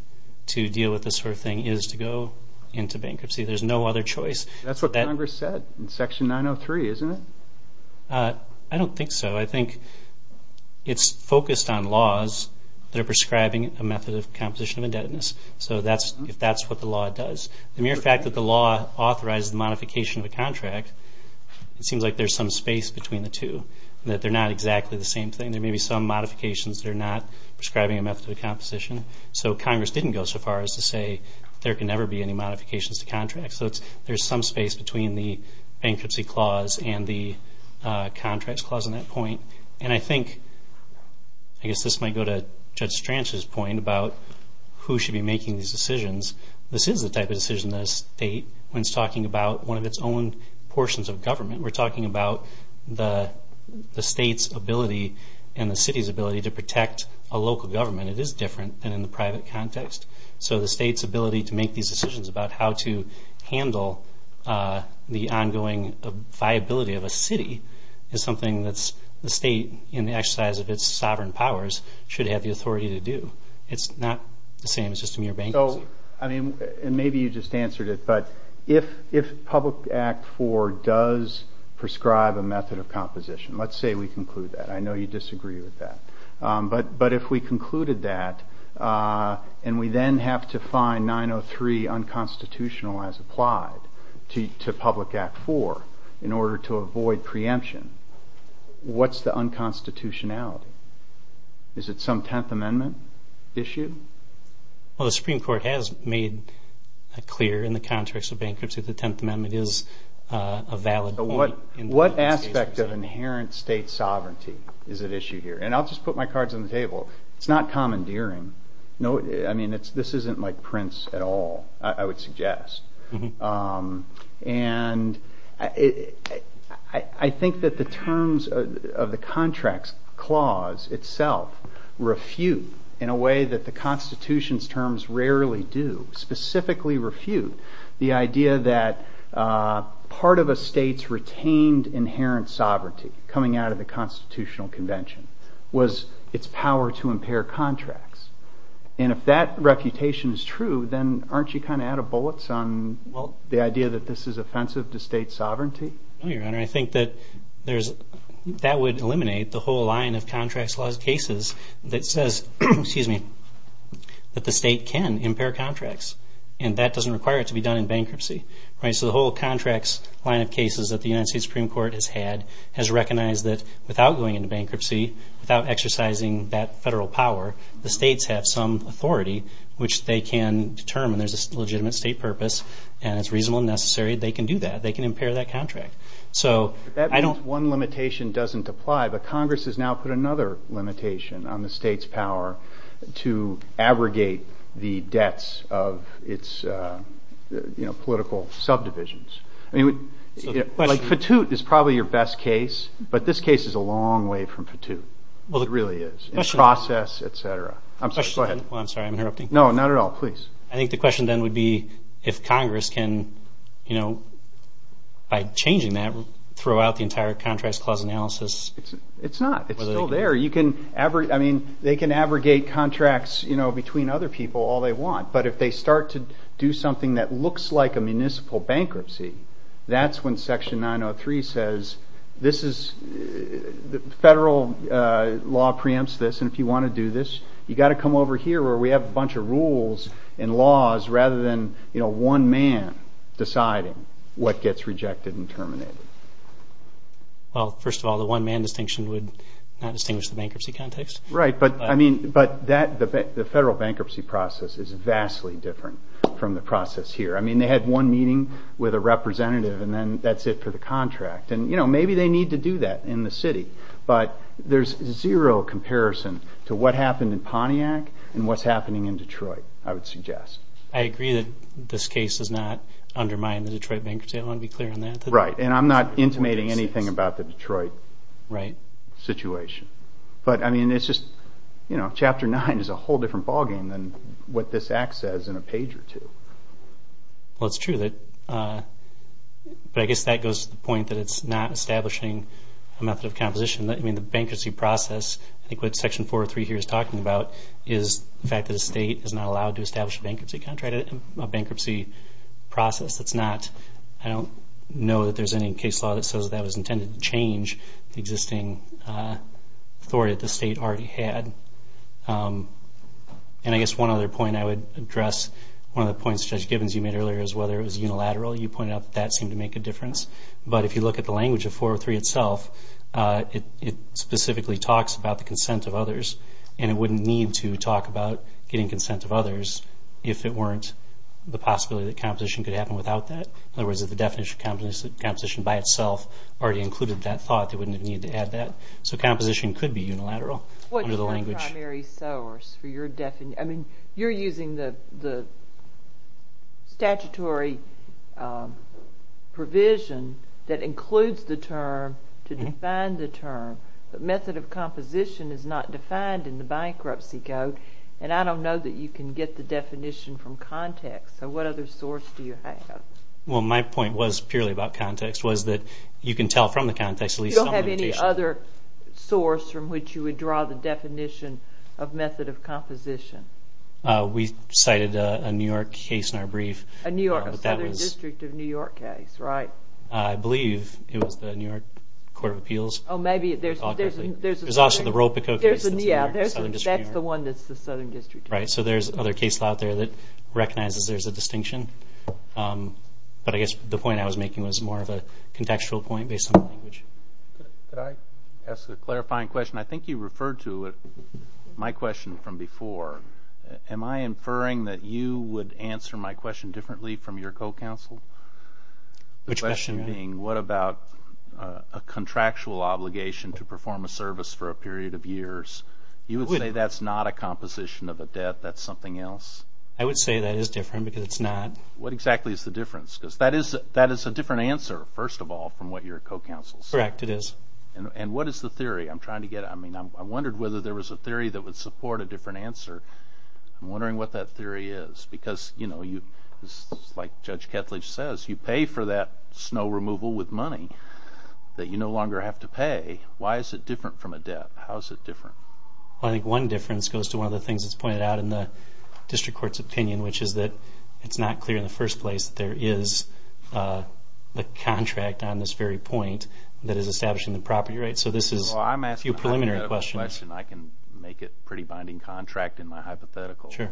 to deal with this sort of thing is to go into bankruptcy. There's no other choice. That's what Congress said in Section 903, isn't it? I don't think so. I think it's focused on laws that are prescribing a method of composition indebtedness. So if that's what the law does, the mere fact that the law authorizes modification of a contract, it seems like there's some space between the two, and that they're not exactly the same thing. There may be some modifications that are not prescribing a method of composition. So Congress didn't go so far as to say there can never be any modifications to contracts. So there's some space between the bankruptcy clause and the contracts clause on that point. And I think, I guess this might go to Judge Stranch's point about who should be making these decisions. This is the type of decision that a state, when it's talking about one of its own portions of government, we're talking about the state's ability and the city's ability to protect a local government. It is different than in the private context. So the state's ability to make these decisions about how to handle the ongoing viability of a city is something that the state, in the exercise of its sovereign powers, should have the authority to do. It's not the same as just a mere bankruptcy. And maybe you just answered it, but if Public Act 4 does prescribe a method of composition, let's say we conclude that. I know you disagree with that. But if we concluded that and we then have to find 903 unconstitutional as applied to Public Act 4 in order to avoid preemption, what's the unconstitutionality? Is it some Tenth Amendment issue? Well, the Supreme Court has made it clear in the context of bankruptcy that the Tenth Amendment is a valid thing. What aspect of inherent state sovereignty is at issue here? And I'll just put my cards on the table. It's not commandeering. I mean, this isn't like Prince at all, I would suggest. And I think that the terms of the contract clause itself refute in a way that the Constitution's terms rarely do, specifically refute the idea that part of a state's retained inherent sovereignty coming out of the Constitutional Convention was its power to impair contracts. And if that reputation is true, then aren't you kind of out of bullets on the idea that this is offensive to state sovereignty? No, Your Honor. I think that that would eliminate the whole line of contracts laws cases that says that the state can impair contracts, and that doesn't require it to be done in bankruptcy. So the whole contracts line of cases that the United States Supreme Court has had has recognized that without going into bankruptcy, without exercising that federal power, the states have some authority, which they can determine there's a legitimate state purpose, and it's reasonable and necessary. They can do that. They can impair that contract. That means one limitation doesn't apply, but Congress has now put another limitation on the state's power to abrogate the debts of its political subdivisions. I mean, Fatute is probably your best case, but this case is a long way from Fatute. It really is. In process, et cetera. Go ahead. I'm sorry, I'm interrupting. No, not at all. Please. I think the question then would be if Congress can, you know, by changing that, throw out the entire contracts clause analysis. It's not. It's still there. I mean, they can abrogate contracts, you know, between other people all they want, but if they start to do something that looks like a municipal bankruptcy, that's when Section 903 says this is the federal law preempts this, and if you want to do this, you've got to come over here where we have a bunch of rules and laws rather than, you know, one man deciding what gets rejected and terminated. Well, first of all, the one man distinction would not distinguish the bankruptcy context. Right, but I mean, the federal bankruptcy process is vastly different from the process here. I mean, they had one meeting with a representative, and then that's it for the contract. And, you know, maybe they need to do that in the city, but there's zero comparison to what happened in Pontiac and what's happening in Detroit, I would suggest. I agree that this case does not undermine the Detroit bankruptcy. I want to be clear on that. Right, and I'm not intimating anything about the Detroit situation. But, I mean, it's just, you know, Chapter 9 is a whole different ballgame than what this act says in a page or two. Well, it's true, but I guess that goes to the point that it's not establishing a method of composition. I mean, the bankruptcy process, I think what Section 403 here is talking about, is the fact that the state is not allowed to establish a bankruptcy process. I don't know that there's any case law that says that was intended to change the existing authority that the state already had. And I guess one other point I would address, one of the points Judge Givens, you made earlier, is whether it was unilateral. You pointed out that that seemed to make a difference. But if you look at the language of 403 itself, it specifically talks about the consent of others, and it wouldn't need to talk about getting consent of others if it weren't the possibility that composition could happen without that. In other words, if the definition of composition by itself already included that thought, it wouldn't need to add that. So composition could be unilateral under the language. What's the primary source for your definition? I mean, you're using the statutory provision that includes the term to define the term, but method of composition is not defined in the bankruptcy code, and I don't know that you can get the definition from context. So what other source do you have? Well, my point was purely about context, was that you can tell from the context. You don't have any other source from which you would draw the definition of method of composition? We cited a New York case in our brief. A Southern District of New York case, right. I believe it was the New York Court of Appeals. Oh, maybe. There's also the Ropico case. That's the one that's the Southern District of New York. Right, so there's other cases out there that recognizes there's a distinction. But I guess the point I was making was more of a contextual point based on the language. Could I ask a clarifying question? I think you referred to my question from before. Am I inferring that you would answer my question differently from your co-counsel? Which question? The question being what about a contractual obligation to perform a service for a period of years? You would say that's not a composition of the debt, that's something else? I would say that is different because it's not. What exactly is the difference? Because that is a different answer, first of all, from what your co-counsel says. Correct, it is. And what is the theory? I'm trying to get at it. I mean, I wondered whether there was a theory that would support a different answer. I'm wondering what that theory is. Because, you know, like Judge Ketledge says, you pay for that snow removal with money that you no longer have to pay. Why is it different from a debt? How is it different? Well, I think one difference goes to one of the things that's pointed out in the district court's opinion, which is that it's not clear in the first place that there is a contract on this very point that is establishing the property, right? So this is a few preliminary questions. Well, I'm asking a hypothetical question. I can make it a pretty binding contract in my hypothetical. Sure.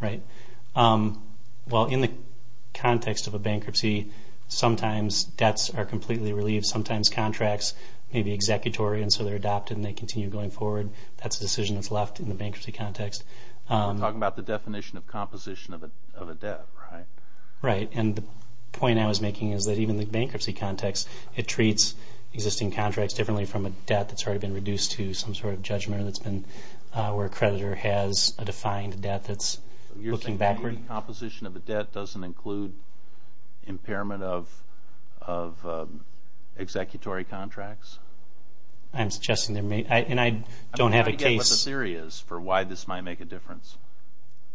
Right. Well, in the context of a bankruptcy, sometimes debts are completely relieved. Sometimes contracts may be executory, and so they're adopted and they continue going forward. That's a decision that's left in the bankruptcy context. You're talking about the definition of composition of a debt, right? Right, and the point I was making is that even in the bankruptcy context, it treats existing contracts differently from a debt that's already been reduced to some sort of judgment that's been where a creditor has a defined debt that's looking backward. So you're saying composition of a debt doesn't include impairment of executory contracts? I'm suggesting there may, and I don't have a case. I don't know what the theory is for why this might make a difference.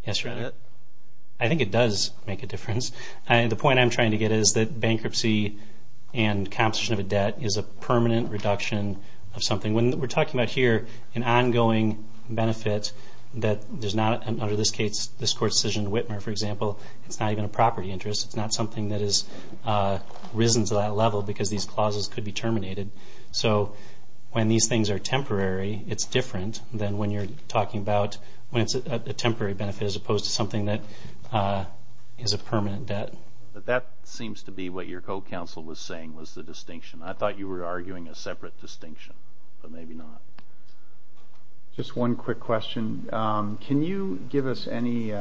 I think it does make a difference, and the point I'm trying to get at is that bankruptcy and composition of a debt is a permanent reduction of something. When we're talking about here an ongoing benefit that there's not, under this case, this court's decision in Whitmer, for example, it's not even a property interest. It's not something that has risen to that level because these clauses could be terminated. So when these things are temporary, it's different than when you're talking about when it's a temporary benefit as opposed to something that is a permanent debt. But that seems to be what your co-counsel was saying was the distinction. I thought you were arguing a separate distinction, but maybe not. Just one quick question. Can you give us any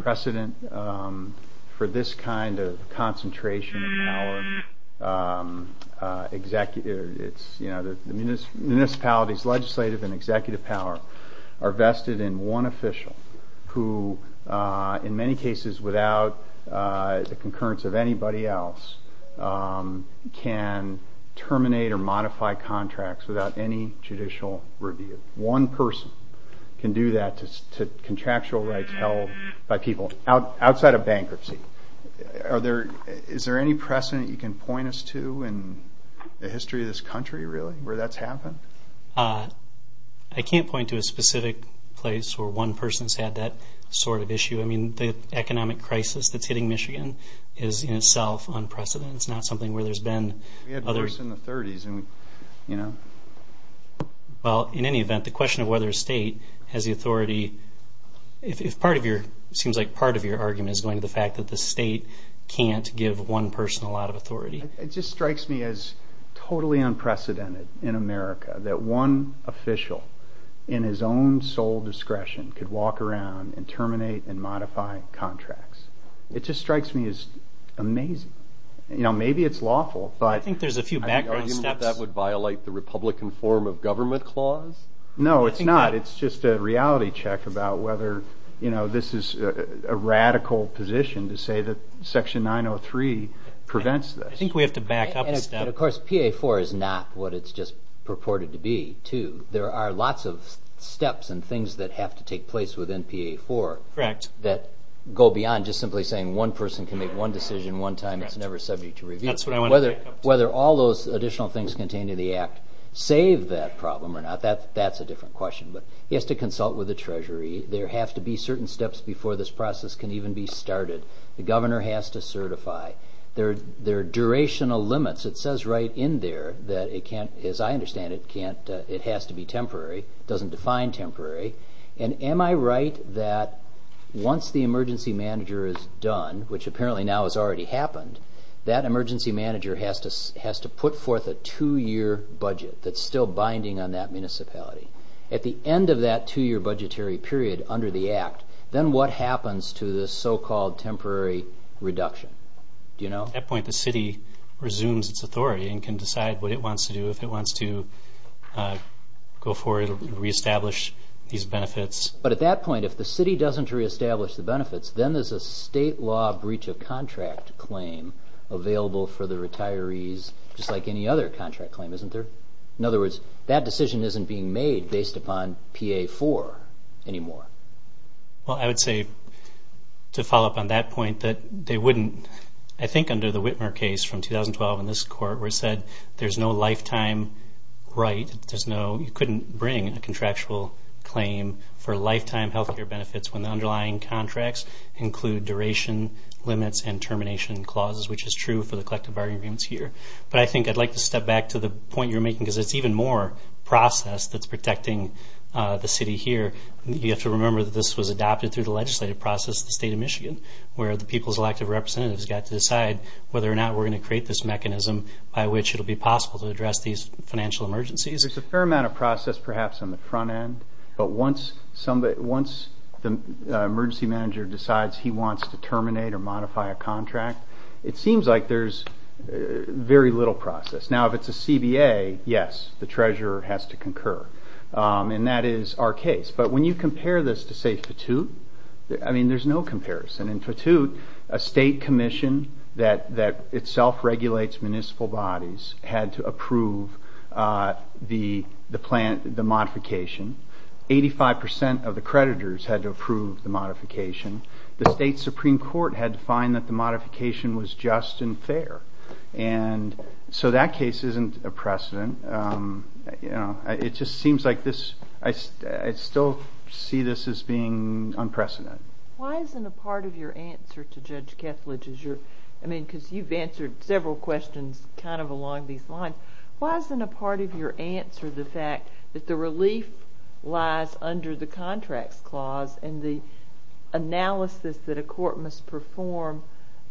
precedent for this kind of concentration of power? Municipalities, legislative and executive power are vested in one official who, in many cases, without the concurrence of anybody else, can terminate or modify contracts without any judicial review. One person can do that to contractual rights held by people outside of bankruptcy. Is there any precedent you can point us to in the history of this country, really, where that's happened? I can't point to a specific place where one person's had that sort of issue. I mean, the economic crisis that's hitting Michigan is, in itself, unprecedented. It's not something where there's been other... We had worse in the 30s. Well, in any event, the question of whether a state has the authority, it seems like part of your argument is going to the fact that the state can't give one person a lot of authority. It just strikes me as totally unprecedented in America that one official, in his own sole discretion, could walk around and terminate and modify contracts. It just strikes me as amazing. You know, maybe it's lawful, but... I think there's a few background steps. Are you arguing that that would violate the Republican form of government clause? No, it's not. It's just a reality check about whether, you know, this is a radical position to say that Section 903 prevents this. I think we have to back up a step. And, of course, PA4 is not what it's just purported to be, too. There are lots of steps and things that have to take place within PA4... Correct. ...that go beyond just simply saying one person can make one decision one time. It's never subject to review. That's what I want to back up to. Whether all those additional things contained in the Act save that problem or not, that's a different question. But he has to consult with the Treasury. There have to be certain steps before this process can even be started. The governor has to certify. There are durational limits. It says right in there that, as I understand it, it has to be temporary. It doesn't define temporary. And am I right that once the emergency manager is done, which apparently now has already happened, that emergency manager has to put forth a two-year budget that's still binding on that municipality? At the end of that two-year budgetary period under the Act, then what happens to this so-called temporary reduction? Do you know? At that point, the city resumes its authority and can decide what it wants to do if it wants to go forward and reestablish these benefits. But at that point, if the city doesn't reestablish the benefits, then there's a state law breach of contract claim available for the retirees, just like any other contract claim, isn't there? In other words, that decision isn't being made based upon PA-4 anymore. Well, I would say to follow up on that point, that they wouldn't, I think under the Whitmer case from 2012 in this court, where it said there's no lifetime right, you couldn't bring a contractual claim for lifetime health care benefits when the underlying contracts include duration limits and termination clauses, which is true for the collective bargaining agreements here. But I think I'd like to step back to the point you're making, because it's even more process that's protecting the city here. You have to remember that this was adopted through the legislative process in the state of Michigan, where the people's elected representatives got to decide whether or not we're going to create this mechanism by which it will be possible to address these financial emergencies. There's a fair amount of process perhaps on the front end, but once the emergency manager decides he wants to terminate or modify a contract, it seems like there's very little process. Now, if it's a CBA, yes, the treasurer has to concur, and that is our case. But when you compare this to, say, Fatute, I mean, there's no comparison. In Fatute, a state commission that itself regulates municipal bodies had to approve the modification. Eighty-five percent of the creditors had to approve the modification. The state Supreme Court had to find that the modification was just and fair. And so that case isn't a precedent. It just seems like this, I still see this as being unprecedented. Why isn't a part of your answer to Judge Kessler, because you've answered several questions kind of along these lines, why isn't a part of your answer the fact that the relief lies under the contracts clause and the analysis that a court must perform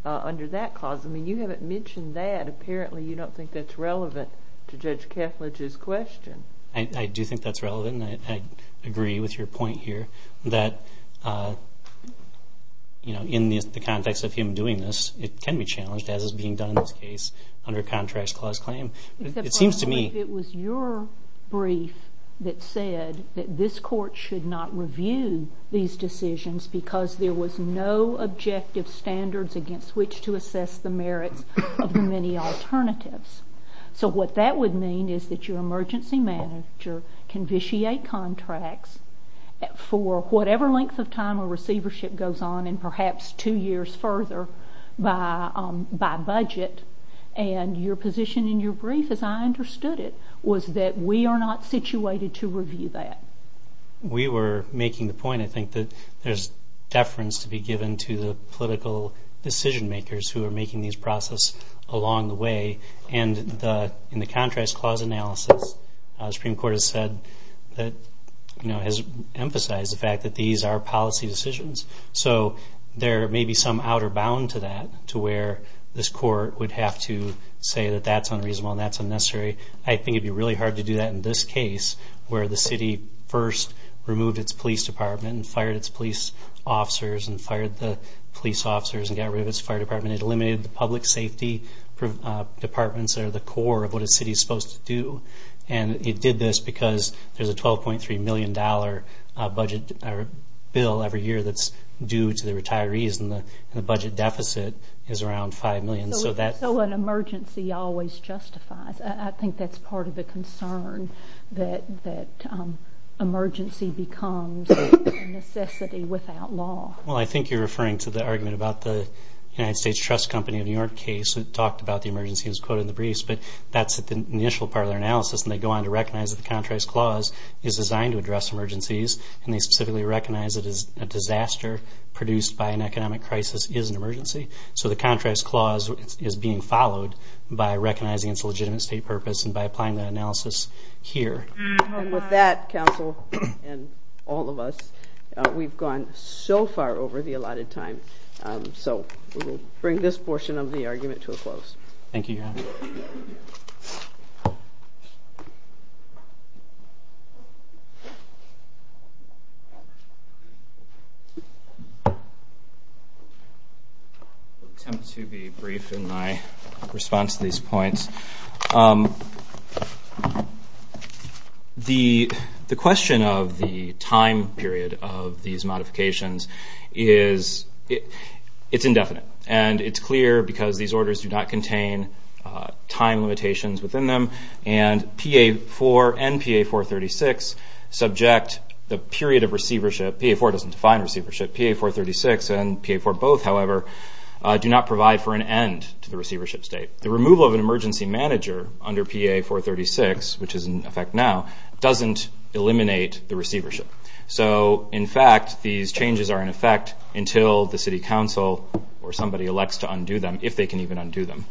under that clause? I mean, you haven't mentioned that. Apparently, you don't think that's relevant to Judge Kessler's question. I do think that's relevant, and I agree with your point here that, you know, in the context of him doing this, it can be challenged as is being done in this case under contracts clause claim. It seems to me... It was your brief that said that this court should not review these decisions because there was no objective standards against which to assess the merit of the many alternatives. So what that would mean is that your emergency manager can vitiate contracts for whatever length of time a receivership goes on and perhaps two years further by budget. And your position in your brief, as I understood it, was that we are not situated to review that. We were making the point, I think, that there's deference to be given to the political decision makers who are making these processes along the way. And in the contracts clause analysis, the Supreme Court has said that, you know, has emphasized the fact that these are policy decisions. So there may be some outer bound to that to where this court would have to say that that's unreasonable and that's unnecessary. I think it would be really hard to do that in this case where the city first removed its police department and fired its police officers and fired the police officers and got rid of its fire department and eliminated the public safety departments that are the core of what a city is supposed to do. And it did this because there's a $12.3 million budget bill every year that's due to the retirees and the budget deficit is around $5 million. So an emergency always justifies. I think that's part of the concern that emergency becomes a necessity without law. Well, I think you're referring to the argument about the United States Trust Company in the New York case that talked about the emergency as quote in the briefs but that's the initial part of their analysis and they go on to recognize that the contracts clause is designed to address emergencies and they specifically recognize it as a disaster produced by an economic crisis is an emergency. So the contracts clause is being followed by recognizing its legitimate state purpose and by applying that analysis here. And with that, counsel, and all of us, we've gone so far over the allotted time. So we will bring this portion of the argument to a close. Thank you. I'll attempt to be brief in my response to these points. The question of the time period of these modifications is it's indefinite and it's clear because these orders do not contain time limitations within them and PA4 and PA436 subject the period of receivership. PA4 doesn't define receivership. PA436 and PA4 both, however, do not provide for an end to the receivership state. The removal of an emergency manager under PA436, which is in effect now, doesn't eliminate the receivership. So, in fact, these changes are in effect until the city council or somebody elects to undo them if they can even undo them.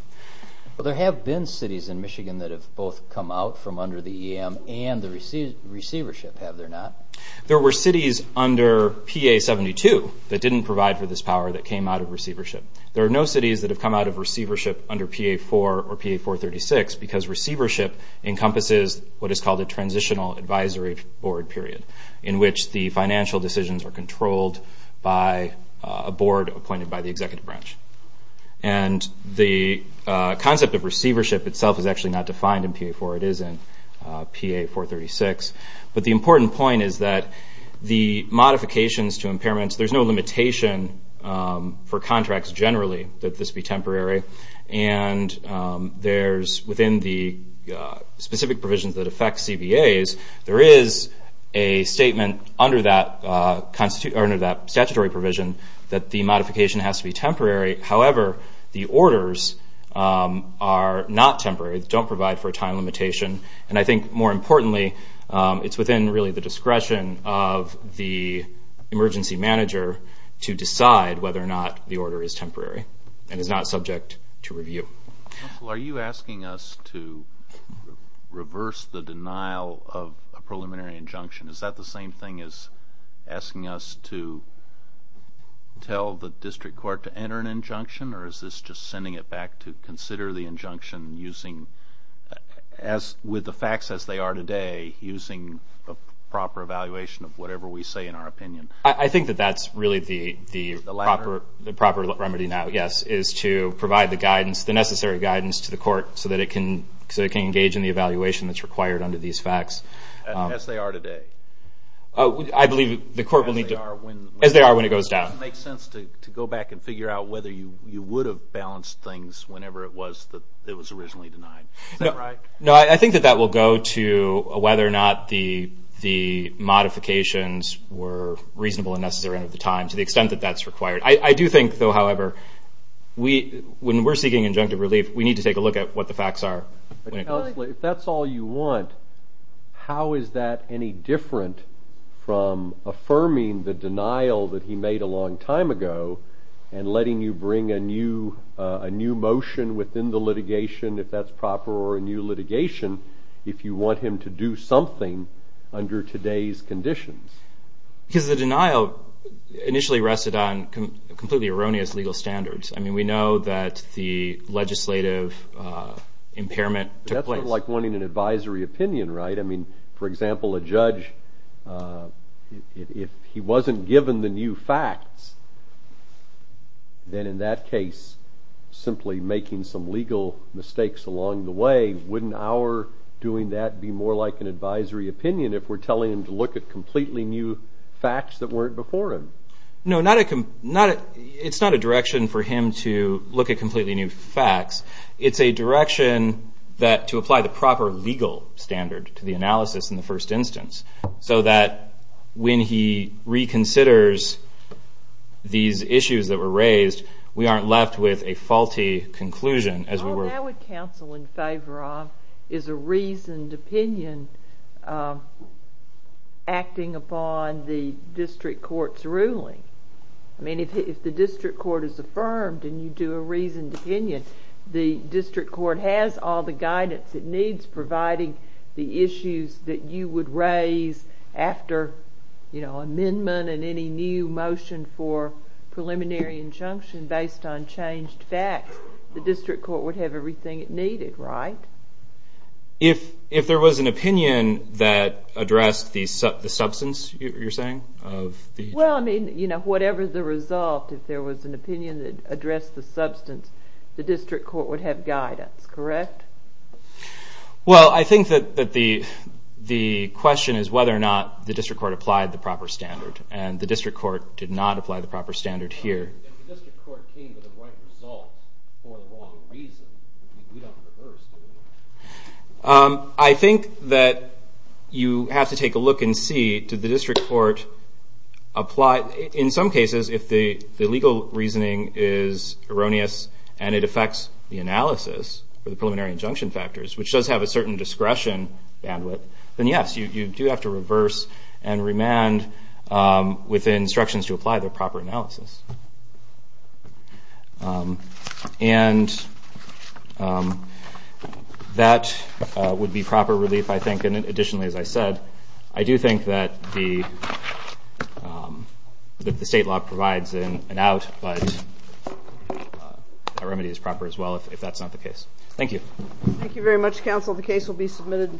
There have been cities in Michigan that have both come out from under the EM and the receivership, have there not? There were cities under PA72 that didn't provide for this power that came out of receivership. There are no cities that have come out of receivership under PA4 or PA436 because receivership encompasses what is called a transitional advisory board period in which the financial decisions are controlled by a board appointed by the executive branch. And the concept of receivership itself is actually not defined in PA4. It is in PA436. But the important point is that the modifications to impairments, there's no limitation for contracts generally that this be temporary. And there's, within the specific provisions that affect CBAs, there is a statement under that statutory provision that the modification has to be temporary. However, the orders are not temporary. They don't provide for a time limitation. And I think more importantly, it's within really the discretion of the emergency manager to decide whether or not the order is temporary and is not subject to review. Well, are you asking us to reverse the denial of a preliminary injunction? Is that the same thing as asking us to tell the district court to enter an injunction, or is this just sending it back to consider the injunction with the facts as they are today, using the proper evaluation of whatever we say in our opinion? I think that that's really the proper remedy now, yes, is to provide the necessary guidance to the court so that it can engage in the evaluation that's required under these facts. As they are today? As they are when it goes down. Does it make sense to go back and figure out whether you would have balanced things whenever it was that it was originally denied? No, I think that that will go to whether or not the modifications were reasonable and necessary at the time to the extent that that's required. I do think, though, however, when we're seeking injunctive relief, we need to take a look at what the facts are. If that's all you want, how is that any different from affirming the denial that he made a long time ago and letting you bring a new motion within the litigation, if that's proper, or a new litigation, if you want him to do something under today's conditions? Because the denial initially rested on completely erroneous legal standards. I mean, we know that the legislative impairment... That's like wanting an advisory opinion, right? I mean, for example, a judge, if he wasn't given the new facts, then in that case, simply making some legal mistakes along the way, wouldn't our doing that be more like an advisory opinion if we're telling him to look at completely new facts that weren't before him? No, it's not a direction for him to look at completely new facts. It's a direction to apply the proper legal standard to the analysis in the first instance so that when he reconsiders these issues that were raised, we aren't left with a faulty conclusion as we were... What I would counsel in favor of is a reasoned opinion acting upon the district court's ruling. I mean, if the district court is affirmed and you do a reasoned opinion, the district court has all the guidance it needs providing the issues that you would raise after amendment and any new motion for preliminary injunction based on changed facts. The district court would have everything it needed, right? If there was an opinion that addressed the substance, you're saying? Well, I mean, you know, whatever the result, if there was an opinion that addressed the substance, the district court would have guidance, correct? Well, I think that the question is whether or not the district court applied the proper standard, and the district court did not apply the proper standard here. If the district court came with a blank result for a wrong reason, we'd have to reverse it. I think that you have to take a look and see, did the district court apply... In some cases, if the legal reasoning is erroneous and it affects the analysis for the preliminary injunction factors, which does have a certain discretion bandwidth, then yes, you do have to reverse and remand within instructions to apply the proper analysis. And that would be proper relief, I think. And additionally, as I said, I do think that the state law provides an out, but a remedy is proper as well, if that's not the case. Thank you. Thank you very much, counsel. The case will be submitted.